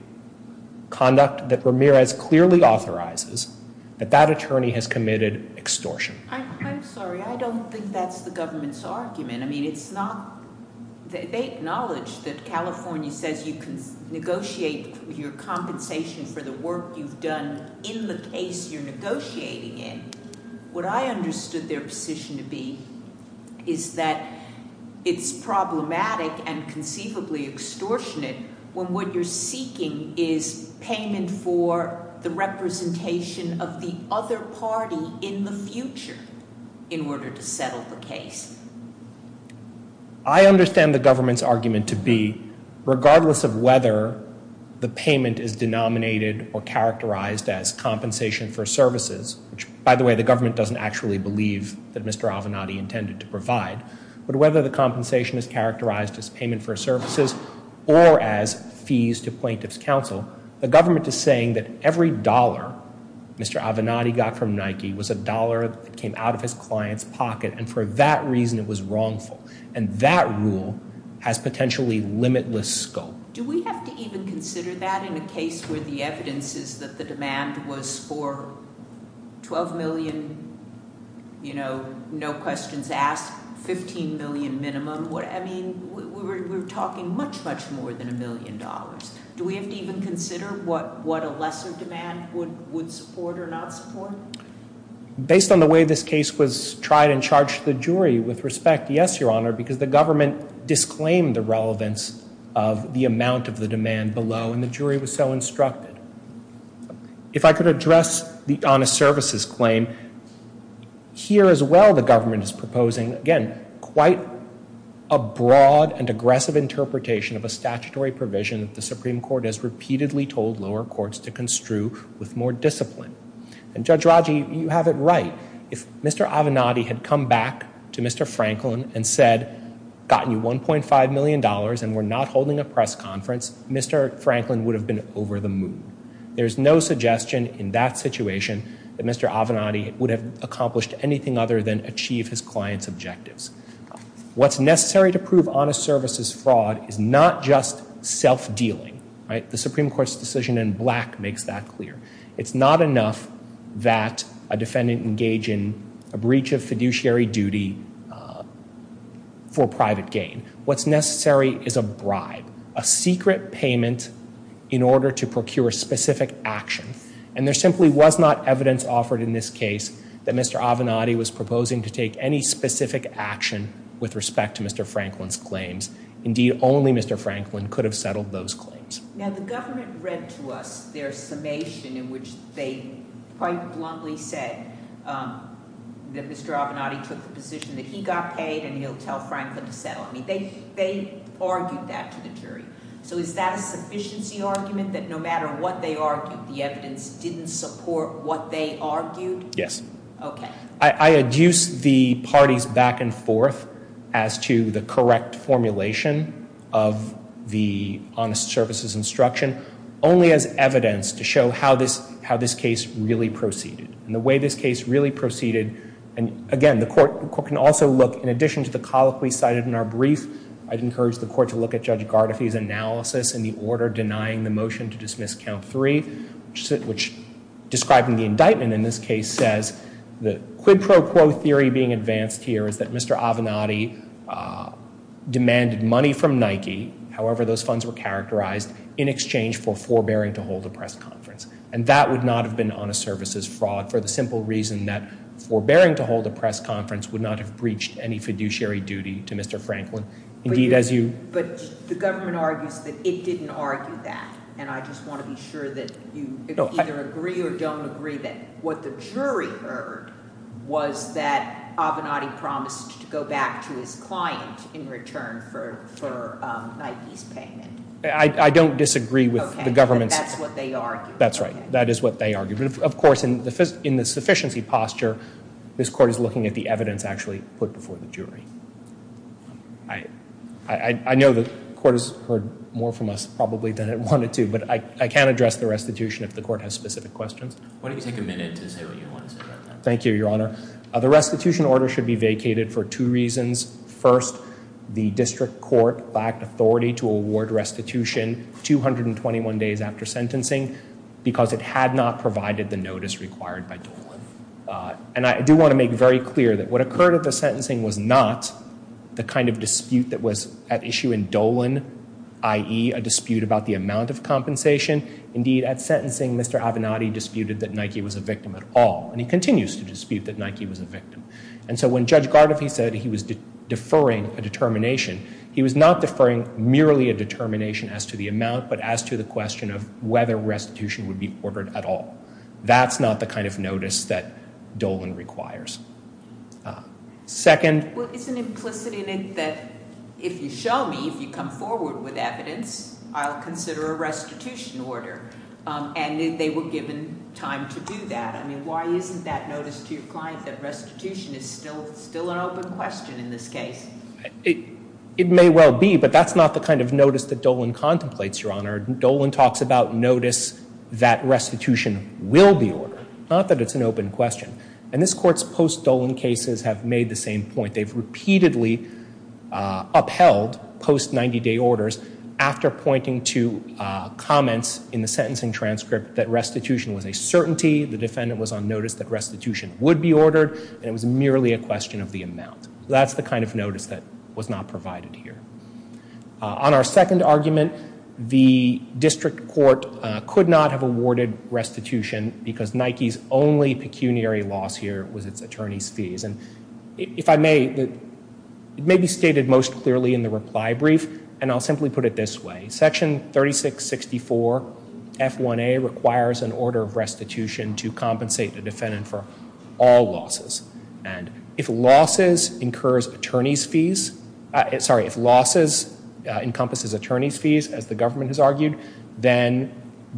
conduct that Ramirez clearly authorizes, that that attorney has committed extortion. I'm sorry, I don't think that's the government's argument. I mean, it's not... They acknowledge that California says you can negotiate your compensation for the work you've done in the case you're negotiating in. What I understood their position to be is that it's problematic and conceivably extortionate when what you're seeking is payment for the representation of the other party in the future in order to settle the case. I understand the government's position to be regardless of whether the payment is denominated or characterized as compensation for services, which by the way, the government doesn't actually believe that Mr. Avenatti intended to provide, but whether the compensation is characterized as payment for services or as fees to plaintiff's counsel, the government is saying that every dollar Mr. Avenatti got from Nike was a dollar that came out of his client's pocket and for that reason it was wrongful. That rule has potentially limitless scope. Do we have to even consider that in a case where the evidence is that the demand was for $12 million no questions asked, $15 million minimum? We're talking much much more than a million dollars. Do we have to even consider what a lesser demand would support or not support? Based on the way this case was tried and charged, the jury, with respect, yes, Your Honor, because the government disclaimed the relevance of the amount of the demand below and the jury was so instructed. If I could address the honest services claim, here as well the government is proposing again, quite a broad and aggressive interpretation of a statutory provision that the Supreme Court has repeatedly told lower courts to construe with more discipline. And Judge Raggi, you have it right. If Mr. Avenatti had come back to Mr. Franklin and said, gotten $1.5 million and we're not holding a press conference, Mr. Franklin would have been over the moon. There's no suggestion in that situation that Mr. Avenatti would have accomplished anything other than achieve his client's objectives. What's necessary to prove honest services fraud is not just self-dealing. The Supreme Court's decision in black makes that clear. It's not enough that a defendant engage in a breach of fiduciary duty for private gain. What's necessary is a bribe. A secret payment in order to procure specific action. And there simply was not evidence offered in this case that Mr. Avenatti was proposing to take any specific action with respect to Mr. Franklin's claims. Indeed, only Mr. Franklin could have settled those claims. Now the government read to us their summation in which they quite bluntly said that Mr. Avenatti took the position that he got paid and he'll tell Franklin to settle. They argued that to the jury. So is that a sufficiency argument that no matter what they argued, the evidence didn't support what they argued? Yes. Okay. I adduce the parties back and forth as to the correct formulation of the honest services instruction, only as evidence to show how this case really proceeded. And the way this case really proceeded, and again, the court can also look, in addition to the colloquy cited in our brief, I'd encourage the court to look at Judge Gardafi's analysis in the order denying the motion to dismiss count three, which, describing the indictment in this case, says that quid pro quo theory being advanced here is that Mr. Avenatti demanded money from Nike, however those funds were characterized, in exchange for forbearing to hold a press conference. And that would not have been honest services fraud for the simple reason that forbearing to hold a press conference would not have breached any fiduciary duty to Mr. Franklin. But the government argues that it didn't argue that. And I just want to be sure that you either agree or don't agree that what the jury heard was that Avenatti promised to go back to his client in return for Nike's payment. I don't disagree with the government. That's what they argued. Of course, in the sufficiency posture, this court is looking at the evidence actually put before the jury. I know the court has heard more from us probably than it wanted to, but I can't address the restitution if the court has specific questions. Why don't you take a minute to say what you wanted to say. Thank you, Your Honor. The restitution order should be vacated for two reasons. First, the district court backed authority to award restitution 221 days after sentencing because it had not provided the notice required by Dolan. And I do want to make very clear that what occurred at the sentencing was not the kind of dispute that was at issue in Dolan, i.e., a dispute about the amount of compensation. Indeed, at sentencing, Mr. Avenatti disputed that Nike was a victim at all. And he continues to dispute that Nike was a victim. And so when Judge Gardafi said he was deferring a determination, he was not deferring merely a determination as to the amount but as to the question of whether restitution would be ordered at all. That's not the kind of notice that Dolan requires. Second... Well, it's an implicit in it that if you show me, if you come forward with evidence, I'll consider a restitution order. And they were given time to do that. I mean, why isn't that notice too fine that restitution is still an open question in this case? It may well be, but that's not the kind of notice that Dolan contemplates, Your Honor. Dolan talks about notice that restitution will be ordered, not that it's an open question. And this Court's post-Dolan cases have made the same point. They've repeatedly upheld post-90-day orders after pointing to comments in the sentencing transcript that restitution was a certainty, the defendant was on notice that restitution would be ordered, and it was merely a question of the amount. That's the kind of notice that was not provided here. On our second argument, the District Court could not have awarded restitution because Nike's only pecuniary loss here was its attorney's fees. If I may, it may be stated most clearly in the reply brief, and I'll simply put it this way. Section 3664 F1A requires an order of restitution to compensate the defendant for all losses. And if losses incurs attorney's fees, sorry, if losses encompasses attorney's fees, as the government has argued, then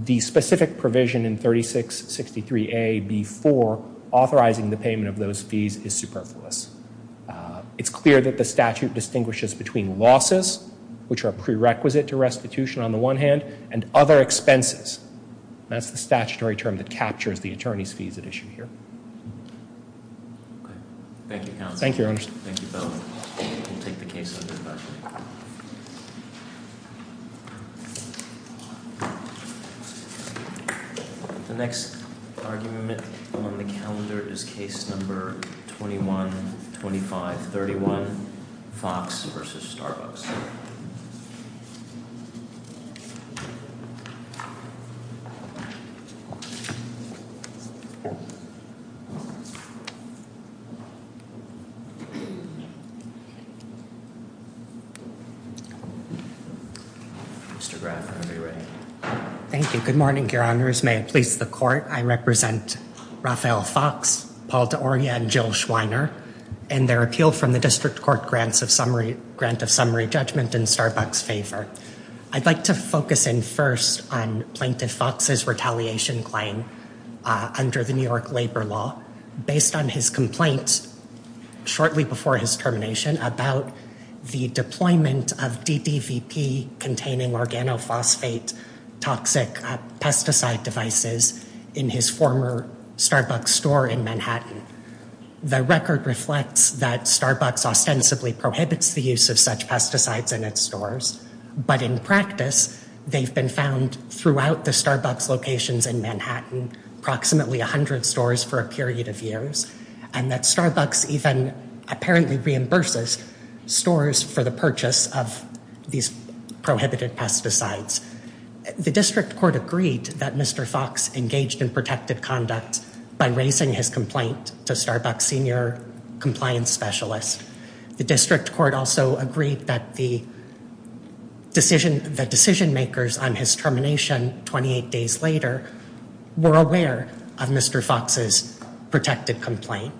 the specific provision in 3663A B.4 authorizing the payment of those fees is superfluous. It's clear that the statute distinguishes between losses, which are prerequisite to restitution on the one hand, and other expenses. That's the statutory term that captures the attorney's fees at issue here. Thank you. Thank you. The next argument before the calendar is case number 212531 Fox v. Starbucks. Mr. Brown, are you ready? Thank you. Good morning, Your Honors. May it please the Court, I represent Raphael Fox, Paul D'Oria, and Jill Schweiner, and they're appealed from the District Court Grant of Summary Raphael Fox, Paul D'Oria, and Jill Schweiner, and they're appealed from the District Court Grant of Summary. I'd like to focus in first on Plaintiff Fox's retaliation claim under the New York Labor Law, based on his complaint shortly before his termination about the deployment of DPVP-containing organophosphate-toxic pesticide devices in his former Starbucks store in Manhattan. The record reflects that in practice, they've been found throughout the Starbucks locations in Manhattan, approximately 100 stores for a period of years, and that Starbucks even apparently reimburses stores for the purchase of these prohibited pesticides. The District Court agreed that Mr. Fox engaged in protective conduct by raising his complaint to Starbucks' senior compliance specialist. The District Court also agreed that the decision makers on his termination 28 days later were aware of Mr. Fox's protective complaint.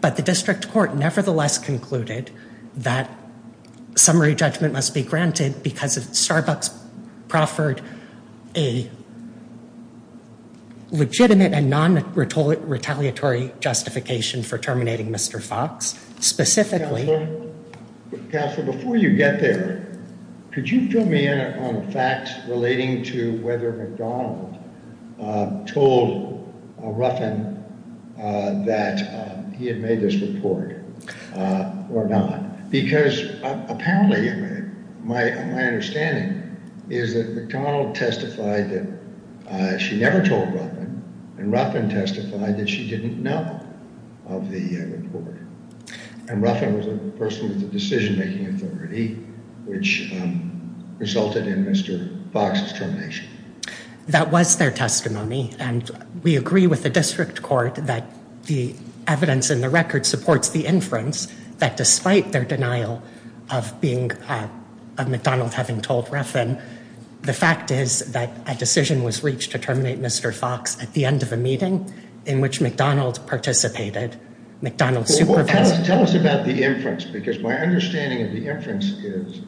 But the District Court nevertheless concluded that summary judgment must be granted because Starbucks proffered a legitimate and non-retaliatory justification for terminating Mr. Fox. Specifically... Counselor, before you get there, could you fill me in on facts relating to whether McDonald told Ruffin that he had made this report or not? Because apparently my understanding is that McDonald testified that she never told Ruffin, and Ruffin testified that she didn't know of the report. And Ruffin was the person with the decision-making authority which resulted in Mr. Fox's termination. That was their testimony and we agree with the District Court that the evidence in the record supports the inference that despite their denial of McDonald having told Ruffin, the fact is that a decision was reached to terminate Mr. Fox at the end of a meeting in which McDonald participated. McDonald... Tell us about the inference because my understanding of the inference is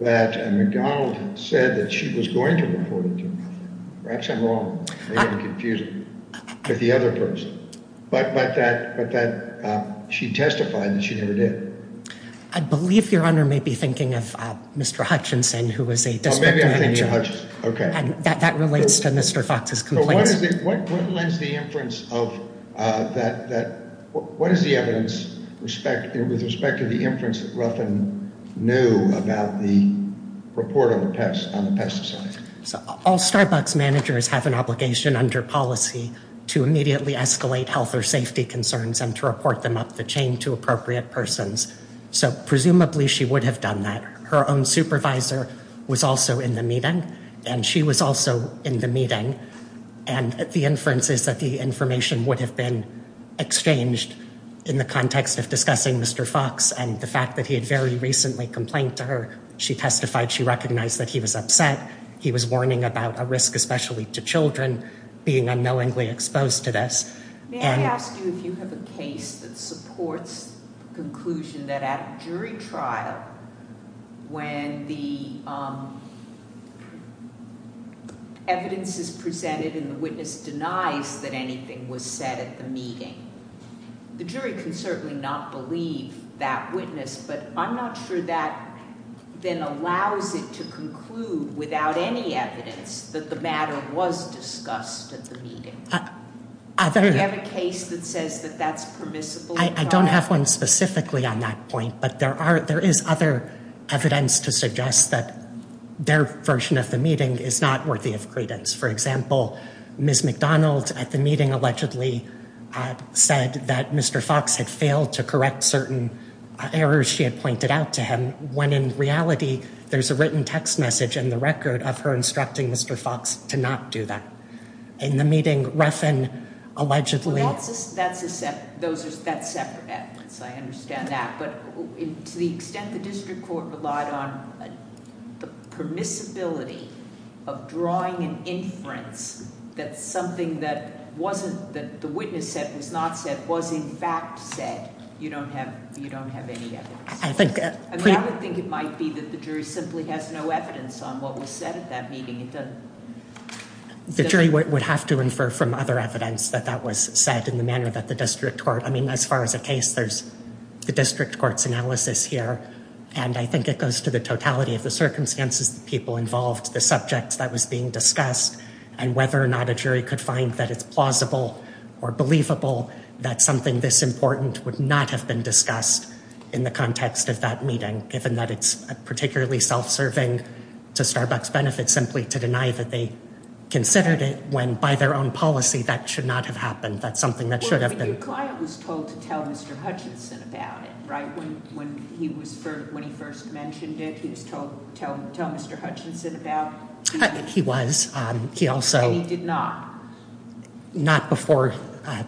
that McDonald said that she was going to report it to me. That's wrong. Very confusing. But that she testified that she did it. I believe Your Honor may be thinking of Mr. Hutchinson who was a... That relates to Mr. Fox's complaint. What is the inference of that... What is the evidence with respect to the inference that Ruffin knew about the report on the pesticide? All Starbucks managers have an obligation under policy to immediately escalate health or safety concerns and to report them up the chain to appropriate persons. So presumably she would have done that. Her own supervisor was also in the meeting and she was also in the meeting and the inference is that the information would have been exchanged in the context of discussing Mr. Fox and the fact that he had very recently complained to her. She testified she recognized that he was upset. He was warning about a risk especially to children being unknowingly exposed to this. May I ask you if you have a case that supports the conclusion that at jury trial when the evidence is presented and the witness denies that anything was said at the meeting, the jury can certainly not believe that witness, but I'm not sure that then allows it to conclude without any evidence that the matter was discussed at the meeting. Do you have a case that says that that's permissible? I don't have one specifically on that point but there is other evidence to suggest that their version of the meeting is not worthy of credence. For example, Ms. McDonald at the meeting allegedly said that Mr. Fox had failed to correct certain errors she had pointed out to him when in reality there's a written text message in the record of her instructing Mr. Fox to not do that. In the meeting Refn allegedly... Those are separate I understand that but to the extent the district court relied on the permissibility of drawing an inference that something that the witness said was not said was in fact said, you don't have any evidence. I think it might be that the jury simply has no evidence on what was said at that meeting. The jury would have to infer from other evidence that that was said in the manner that the district court, I mean as far as the case, there's the district court's analysis here and I think it goes to the totality of the circumstances people involved, the subject that was being discussed and whether or not a jury could find that it's plausible or believable that something this important would not have been discussed in the context of that meeting given that it's particularly self-serving to Starbucks benefits simply to deny that they considered it when by their own policy that should not have happened. That's something that should have been... The client was told to tell Mr. Hutchinson about it, right? When he first mentioned it, he was told to tell Mr. Hutchinson about it? He was. He also... And he did not? Not before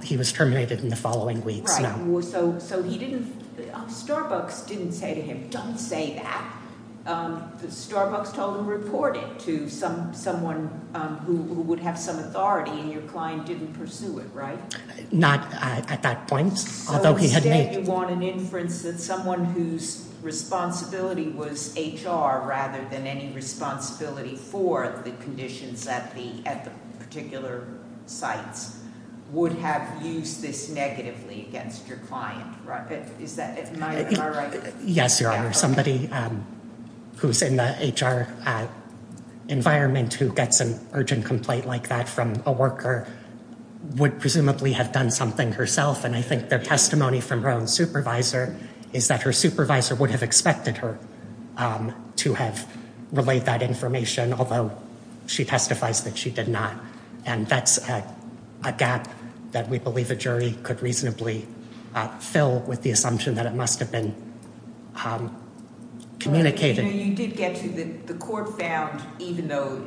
he was terminated in the following week. So he didn't... Starbucks didn't say to him, don't say that. Starbucks told him to report it to someone who would have some authority and your client didn't pursue it, right? Not at that point. You want an inference that someone whose responsibility was HR rather than any responsibility for the conditions that the particular site would have used this negatively against your client, right? Yes, Your Honor. Somebody who's in the HR environment who gets an urgent complaint like that from a worker would presumably have done something herself, and I think the testimony from her own supervisor is that her supervisor would have expected her to have relayed that information, although she testifies that she did not. And that's a gap that we believe the jury could reasonably fill with the assumption that it must have been communicated. You did say actually that the court found even though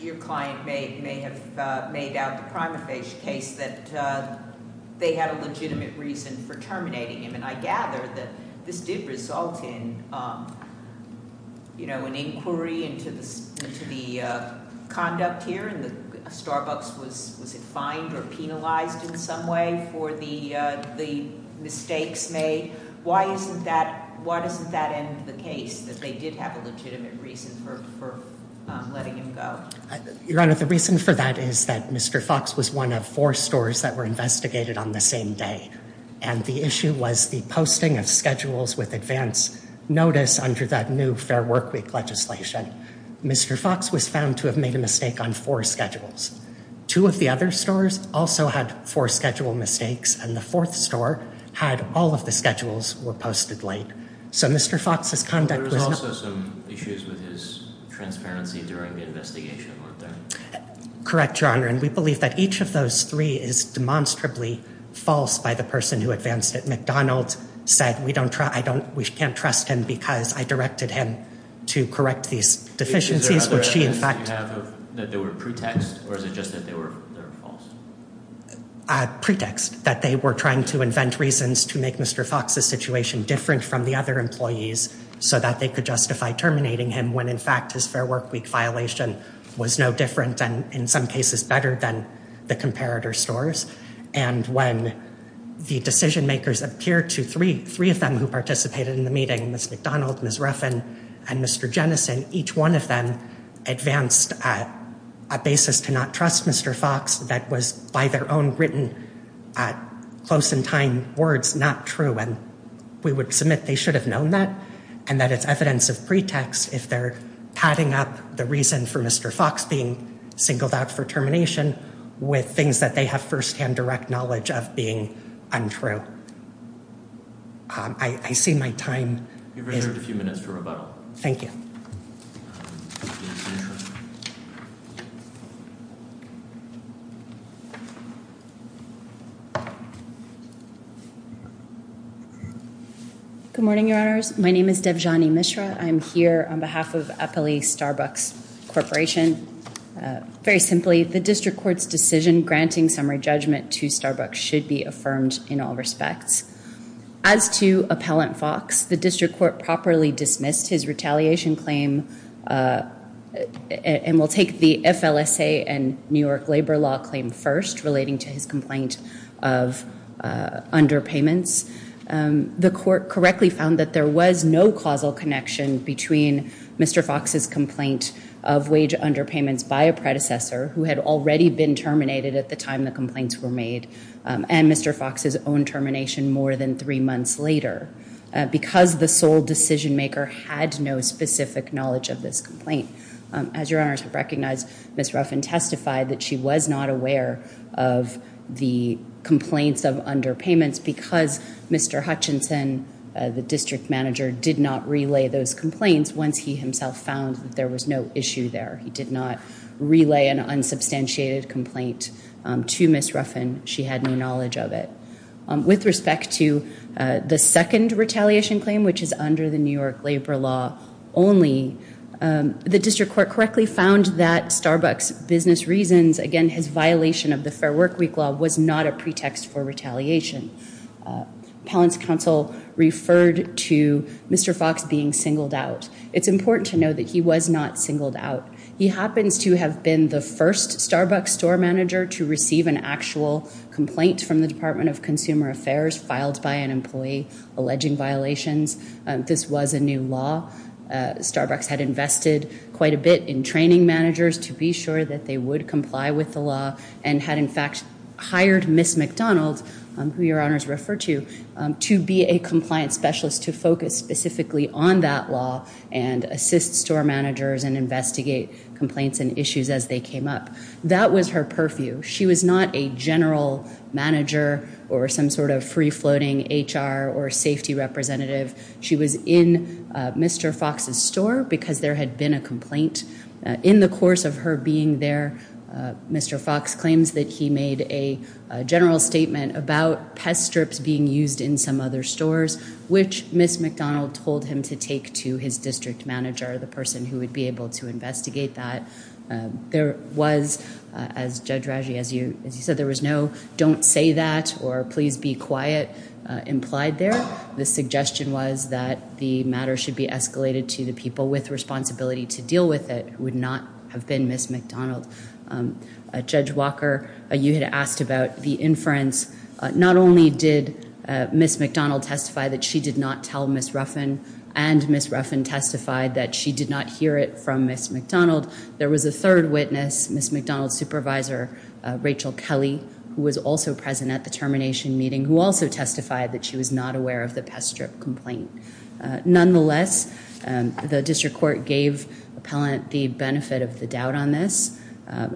your client may have made out a crime of case that they had a legitimate reason for terminating him, and I gather that this did result in an inquiry into the conduct here and that Starbucks was fined or penalized in some way for the mistakes made. Why isn't that implicated that they did have a legitimate reason for letting him go? Your Honor, the reason for that is that Mr. Fox was one of four stores that were investigated on the same day, and the issue was the posting of schedules with advance notice under that new Fair Work Week legislation. Mr. Fox was found to have made a mistake on four schedules. Two of the other stores also had four schedule mistakes, and the fourth store had all of the schedules were posted late. So Mr. Fox was found to have made a mistake on four schedules. There was also some issues with his transparency during the investigation, weren't there? Correct, Your Honor, and we believe that each of those three is demonstrably false by the person who advanced it. McDonald said, we can't trust him because I directed him to correct these deficiencies, which he in fact did. Is there evidence that there were pretexts, or is it just that they were false? There was a pretext that they were trying to invent reasons to make Mr. Fox's situation different from the other employees so that they could justify terminating him when in fact his Fair Work Week violation was no different than, in some cases, better than the comparator stores, and when the decision makers appeared to three of them who participated in the meeting, Mr. McDonald, Ms. Ruffin, and Mr. Jennison, each one of them advanced a basis to not trust Mr. Fox that was by their own written close-in-time words not true, and we would submit they should have known that, and that it's evidence of pretext if they're padding up the reason for Mr. Fox being singled out for termination with things that they have first-hand direct knowledge of being untrue. I see my time... Thank you.......... Good morning, Your Honors. My name is Debjani Mishra. I'm here on behalf of Eppley Starbucks Corporation. Very simply, the District Court's decision granting summary judgment to Starbucks should be affirmed in all respects. As to Appellant Fox, the District Court properly dismissed his retaliation claim and will take the FLSA and New York Labor Law claim first relating to his complaint of underpayments. The Court correctly found that there was no causal connection between Mr. Fox's complaint of wage underpayments by a predecessor who had already been terminated at the time the complaints were made, and Mr. Fox's own termination more than three months later. Because the sole decision-maker had no specific knowledge of this complaint. As Your Honors recognize, Ms. Ruffin testified that she was not aware of the complaints of underpayments because Mr. Hutchinson, the District Manager, did not relay those complaints once he himself found that there was no issue there. He did not relay an unsubstantiated complaint to Ms. Ruffin. She had no knowledge of it. With respect to the second retaliation claim, which is under the New York Labor Law only, the District Court correctly found that Starbucks Business Reasons again, his violation of the Fair Work Week law, was not a pretext for retaliation. Collins Counsel referred to Mr. Fox being singled out. It's important to know that he was not singled out. He happens to have been the first Starbucks store manager to receive an actual complaint from the Department of Consumer Affairs filed by an employee alleging violations. This was a new law. Starbucks had invested quite a bit in training managers to be sure that they would comply with the law and had in fact hired Ms. McDonald, who Your Honors refer to, to be a compliance specialist to focus specifically on that law and assist store managers and investigate complaints and issues as they came up. That was her purview. She was not a general manager or some sort of free-floating HR or safety representative. She was in Mr. Fox's store because there had been a complaint. In the course of her being there, Mr. Fox claims that he made a general statement about pest strips being used in some other stores, which Ms. McDonald told him to take to his district manager, the person who would be able to investigate that. There was, as Judge Rauji, as you might or please be quiet implied there, the suggestion was that the matter should be escalated to the people with responsibility to deal with it, who would not have been Ms. McDonald. Judge Walker, you had asked about the inference. Not only did Ms. McDonald testify that she did not tell Ms. Ruffin and Ms. Ruffin testified that she did not hear it from Ms. McDonald, there was a third witness, Ms. McDonald's supervisor, Rachel Kelly, who was also present at the termination meeting, who also testified that she was not aware of the pest strip complaint. Nonetheless, the district court gave appellant the benefit of the doubt on this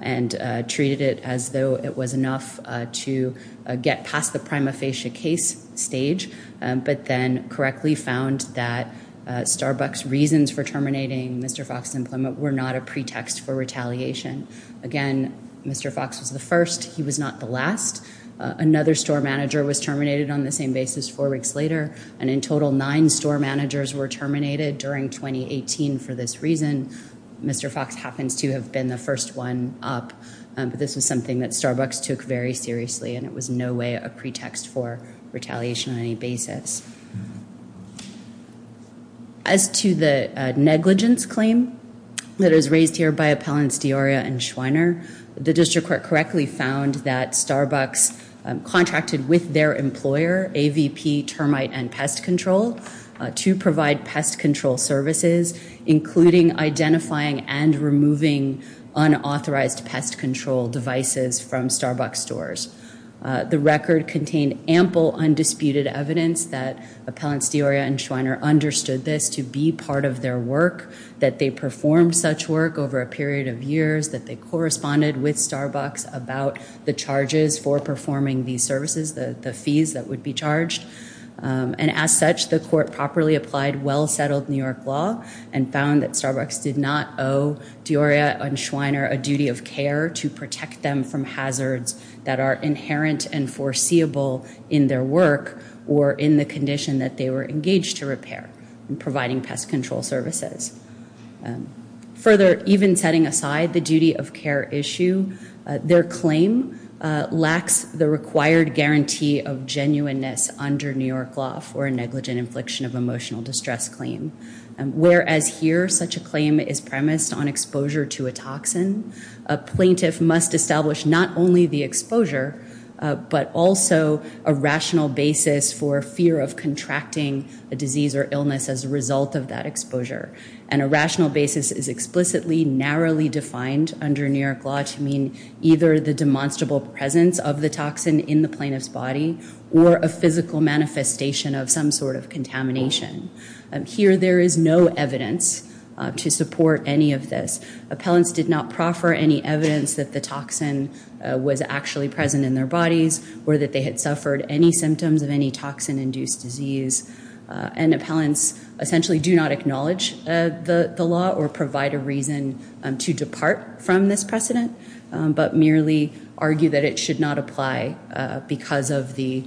and treated it as though it was enough to get past the prima facie case stage, but then correctly found that Starbucks' reasons for terminating Mr. Fox's employment were not a pretext for retaliation. Again, Mr. Fox was the first. He was not the last. Another store manager was terminated on the same basis four weeks later, and in total, nine store managers were terminated during 2018 for this reason. Mr. Fox happens to have been the first one up. This is something that Starbucks took very seriously, and it was no way a pretext for retaliation on any basis. As to the negligence claim that is raised here by appellants Deoria and Schweiner, the district court correctly found that Starbucks contracted with their employer, AVP Termite and Pest Control, to provide pest control services, including identifying and removing unauthorized pest control devices from Starbucks stores. The record contained ample undisputed evidence that appellants Deoria and Schweiner understood this to be part of their work, that they performed such work over a period of years, that they corresponded with Starbucks about the charges for performing these services, the fees that would be charged. And as such, the court properly applied well-settled New York law and found that Starbucks did not owe Deoria and Schweiner a duty of care to protect them from hazards that are inherent and foreseeable in their work or in the condition that they were to provide pest control services. Further, even setting aside the duty of care issue, their claim lacks the required guarantee of genuineness under New York law for a negligent infliction of emotional distress claim. Whereas here such a claim is premised on exposure to a toxin, a plaintiff must establish not only the exposure, but also a rational basis for fear of contracting a disease or illness as a result of that exposure. And a rational basis is explicitly narrowly defined under New York law to mean either the demonstrable presence of the toxin in the plaintiff's body or a physical manifestation of some sort of contamination. Here there is no evidence to support any of this. Appellants did not proffer any evidence that the toxin was actually present in their bodies or that they had suffered any symptoms of any toxin-induced disease. And appellants essentially do not acknowledge the law or provide a reason to depart from this precedent, but merely argue that it should not apply because of the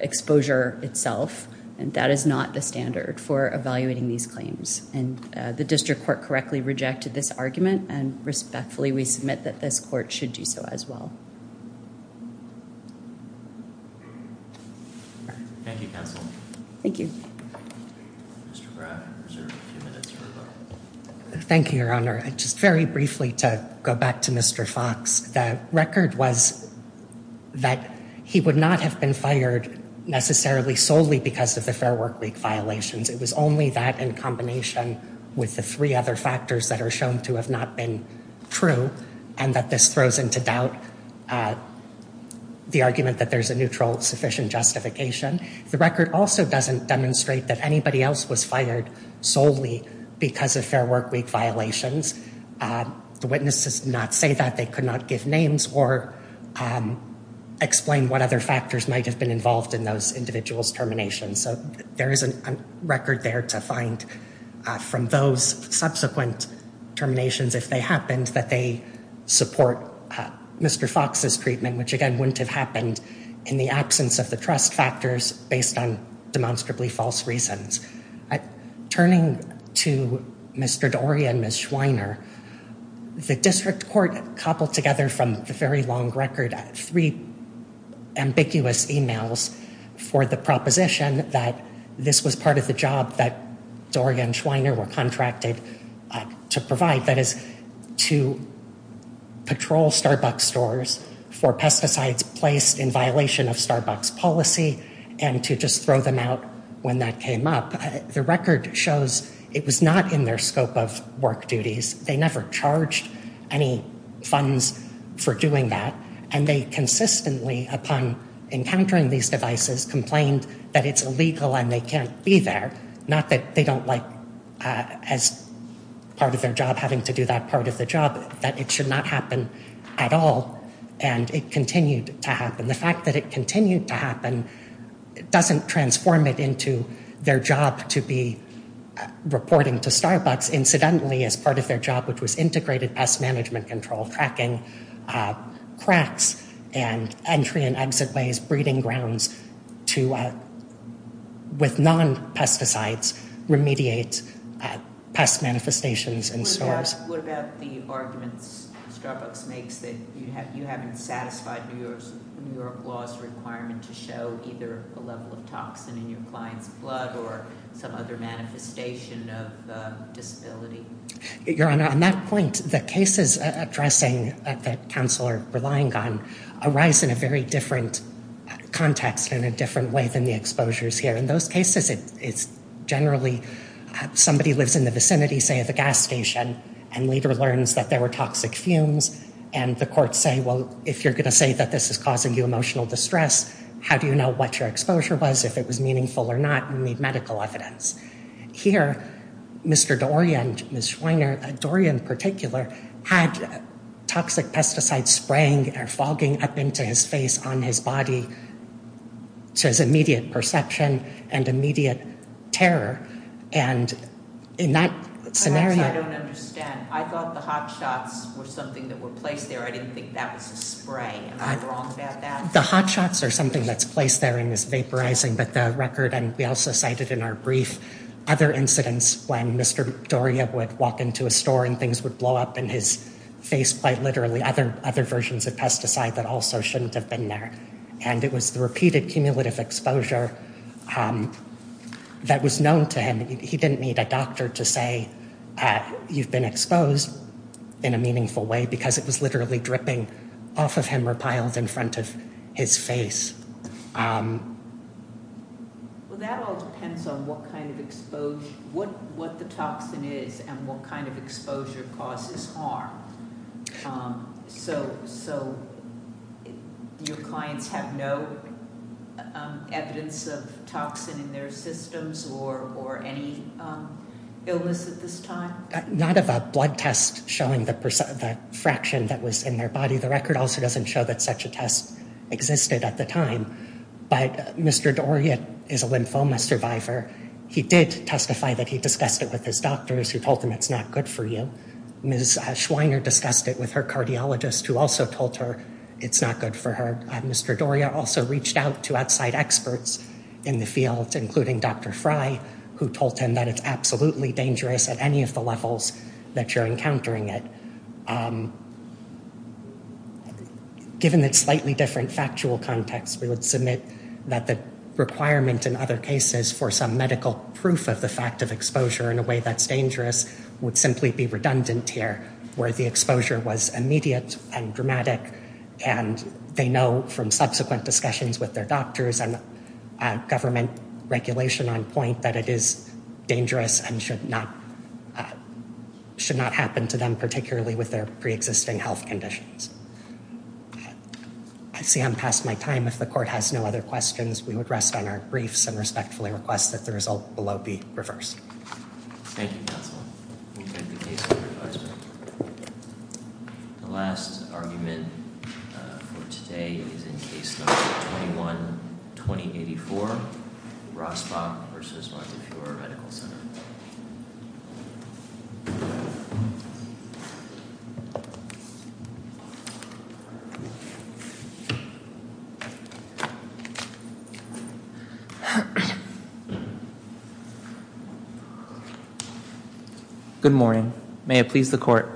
exposure itself. That is not the standard for evaluating these claims. The district court correctly rejected this argument and respectfully we submit that this court should do so as well. Thank you. Thank you, Your Honor. Very briefly to go back to Mr. Fox. The record was that he would not have been fired necessarily solely because of the Fair Work League violations. It was only that in combination with the three other factors that are shown to have not been true and that this throws into doubt the argument that there's a neutral, sufficient justification. The record also doesn't demonstrate that anybody else was fired solely because of Fair Work League violations. The witnesses did not say that. They could not give names or explain what other factors might have been involved in those individuals' terminations. There is a record there to find from those subsequent terminations if they happened, that they support Mr. Fox's treatment, which again wouldn't have happened in the absence of the trust factors based on demonstrably false reasons. Turning to Mr. Dorian and Ms. Schweiner, the district court coupled together from the very long record three ambiguous emails for the proposition that this was part of the job that Dorian and Schweiner were contracted to provide, that is, to patrol Starbucks stores for pesticides placed in violation of Starbucks policy and to just throw them out when that came up. The record shows it was not in their scope of work duties. They never charged any funds for doing that and they consistently, upon encountering these devices, complained that it's illegal and they can't be there. Not that they don't like as part of their job having to do that part of the job, that it should not happen at all and it continued to happen. The fact that it continued to happen doesn't transform it into their job to be reporting to Starbucks, incidentally, as part of their job, which was integrated pest management control, tracking cracks and entry and exit ways, breeding grounds to with non-pesticides remediates pest manifestations and so on. What about the argument Starbucks makes that you haven't satisfied New York law's requirement to show either the level of toxin in your client's blood or the other manifestation of disability? Your Honor, on that point, the cases addressing, that counselor was relying on, arise in a very different context and a different way than the exposures here. In those cases, it's generally, somebody lives in the vicinity, say, of a gas station and later learns that there were toxic fumes and the courts say, well, if you're going to say that this is causing you emotional distress, how do you know what your exposure was, if it was meaningful or not, you need medical evidence. Here, Mr. Dorian, Ms. Schwanger, Dorian in particular, had toxic pesticides spraying or fogging up into his face on his body and he says immediate perception and immediate terror and in that scenario... I don't understand. I thought the hot shots were something that were placed there. I didn't think that was a spray. Am I wrong about that? The hot shots are something that's placed there and is vaporizing, but the record and we also cited in our brief other incidents when Mr. Dorian would walk into a store and things would blow up in his face by literally other versions of pesticides that also shouldn't have been there and it was the repeated cumulative exposure that was known to him. He didn't need a doctor to say you've been exposed in a meaningful way because it was literally dripping off of him or piled in front of his face. Well, that all depends on what kind of exposure, what the toxin is and what kind of exposure causes harm. So your clients have no evidence of toxin in their systems or any illness at this time? Not about blood tests showing the fraction that was in their body. The record also doesn't show that such a test existed at the time, but Mr. Dorian is a lymphoma survivor. He did testify that he discussed it with his doctor and she told him it's not good for you. Ms. Schweiner discussed it with her cardiologist who also told her it's not good for her. Mr. Dorian also reached out to outside experts in the field, including Dr. Fry, who told him that it's absolutely dangerous at any of the levels that you're encountering it. Given the slightly different factual context, we would submit that the requirement in other cases for some medical proof of the fact of exposure in a way that's dangerous would simply be redundant here, where the exposure was immediate and dramatic and they know from subsequent discussions with their doctors and government regulation on point that it is dangerous and should not happen to them, particularly with their pre-existing health conditions. I see I'm past my time. If the court has no other questions, we would rest on our briefs and respectfully request that the result below be reversed. We thank you for your advice. The last argument for today is in case number 21-2084, Rostock v. Montefiore. Good morning. May it please the court.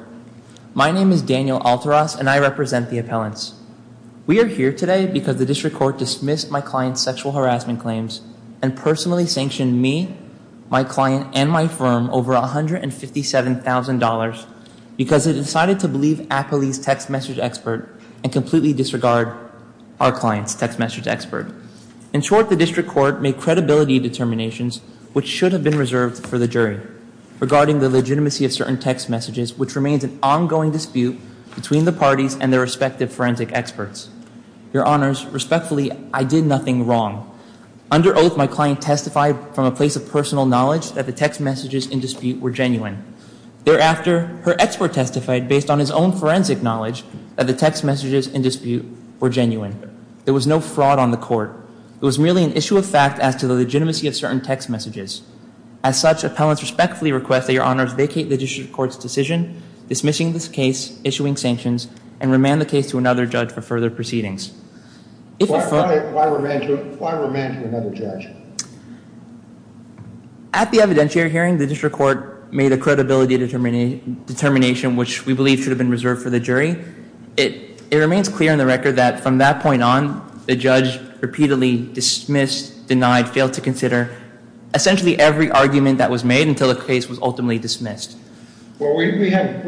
My name is Daniel Alteras and I represent the appellants. We are here today because the district court dismissed my client's sexual harassment claims and personally sanctioned me, my client, and my firm over $157,000 because they decided to believe Applebee's text message expert and completely disregard our client's text message expert. In short, the district court made credibility determinations which should have been based on the legitimacy of certain text messages, which remains an ongoing dispute between the parties and their respective forensic experts. Your Honors, respectfully, I did nothing wrong. Under oath, my client testified from a place of personal knowledge that the text messages in dispute were genuine. Thereafter, her expert testified based on his own forensic knowledge that the text messages in dispute were genuine. There was no fraud on the court. It was merely an issue of fact as to the legitimacy of certain text messages. As such, appellants respectfully request that Your Honors vacate the district court's decision dismissing this case, issuing sanctions, and remand the case to another judge for further proceedings. Why remand to another judge? At the evidentiary hearing, the district court made a credibility determination which we believe should have been reserved for the jury. It remains clear on the record that from that point on, the judge repeatedly dismissed, denied, failed to consider, essentially every argument that was made until the case was ultimately dismissed. We have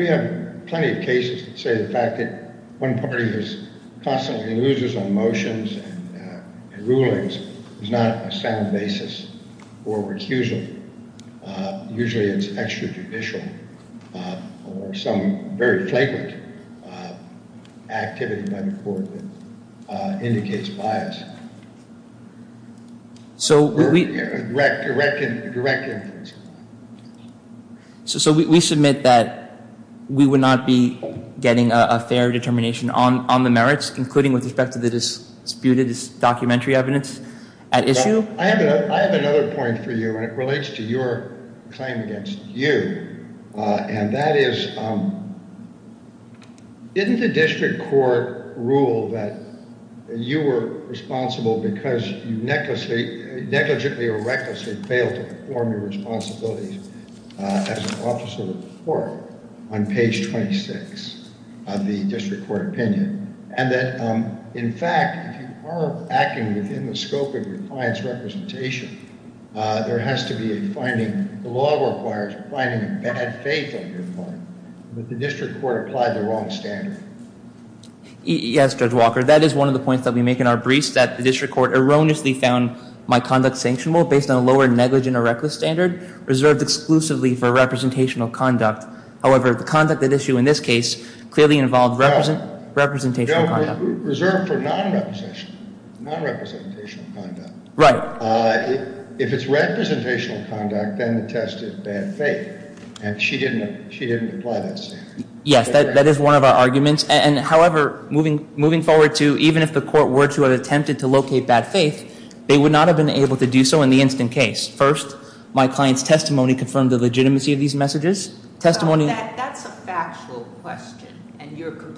plenty of cases that say the fact that one party constantly loses on motions and rulings is not a sound basis for refusal. Usually it's extrajudicial or some very flagrant activity by the court that indicates bias. A direct inference. So we submit that we would not be getting a fair determination on the merits including with respect to the disputed documentary evidence at issue? I have another point for you and it relates to your claim against you. And that is didn't the district court rule that you were responsible because you negligently or recklessly failed to perform your responsibility as an officer of the court on page 26 of the district court opinion? And that in fact, if you are acting within the scope of your client's representation, there has to be a finding, the law requires a finding in faith of your client. Did the district court apply the wrong standard? Yes Judge Walker, that is one of the points that we make in our briefs that the district court erroneously found my conduct sanctionable based on a lower negligent or reckless standard reserved exclusively for representational conduct. However, the conduct at issue in this case clearly involved representational conduct. Reserved for non-representational conduct. Right. If it's representational conduct, then the test is bad faith. And she didn't apply that standard. Yes, that is one of our arguments. And if the district court were to have attempted to locate that faith, they would not have been able to do so in the instant case. First, my client's testimony confirmed the legitimacy of these messages. That's a factual question.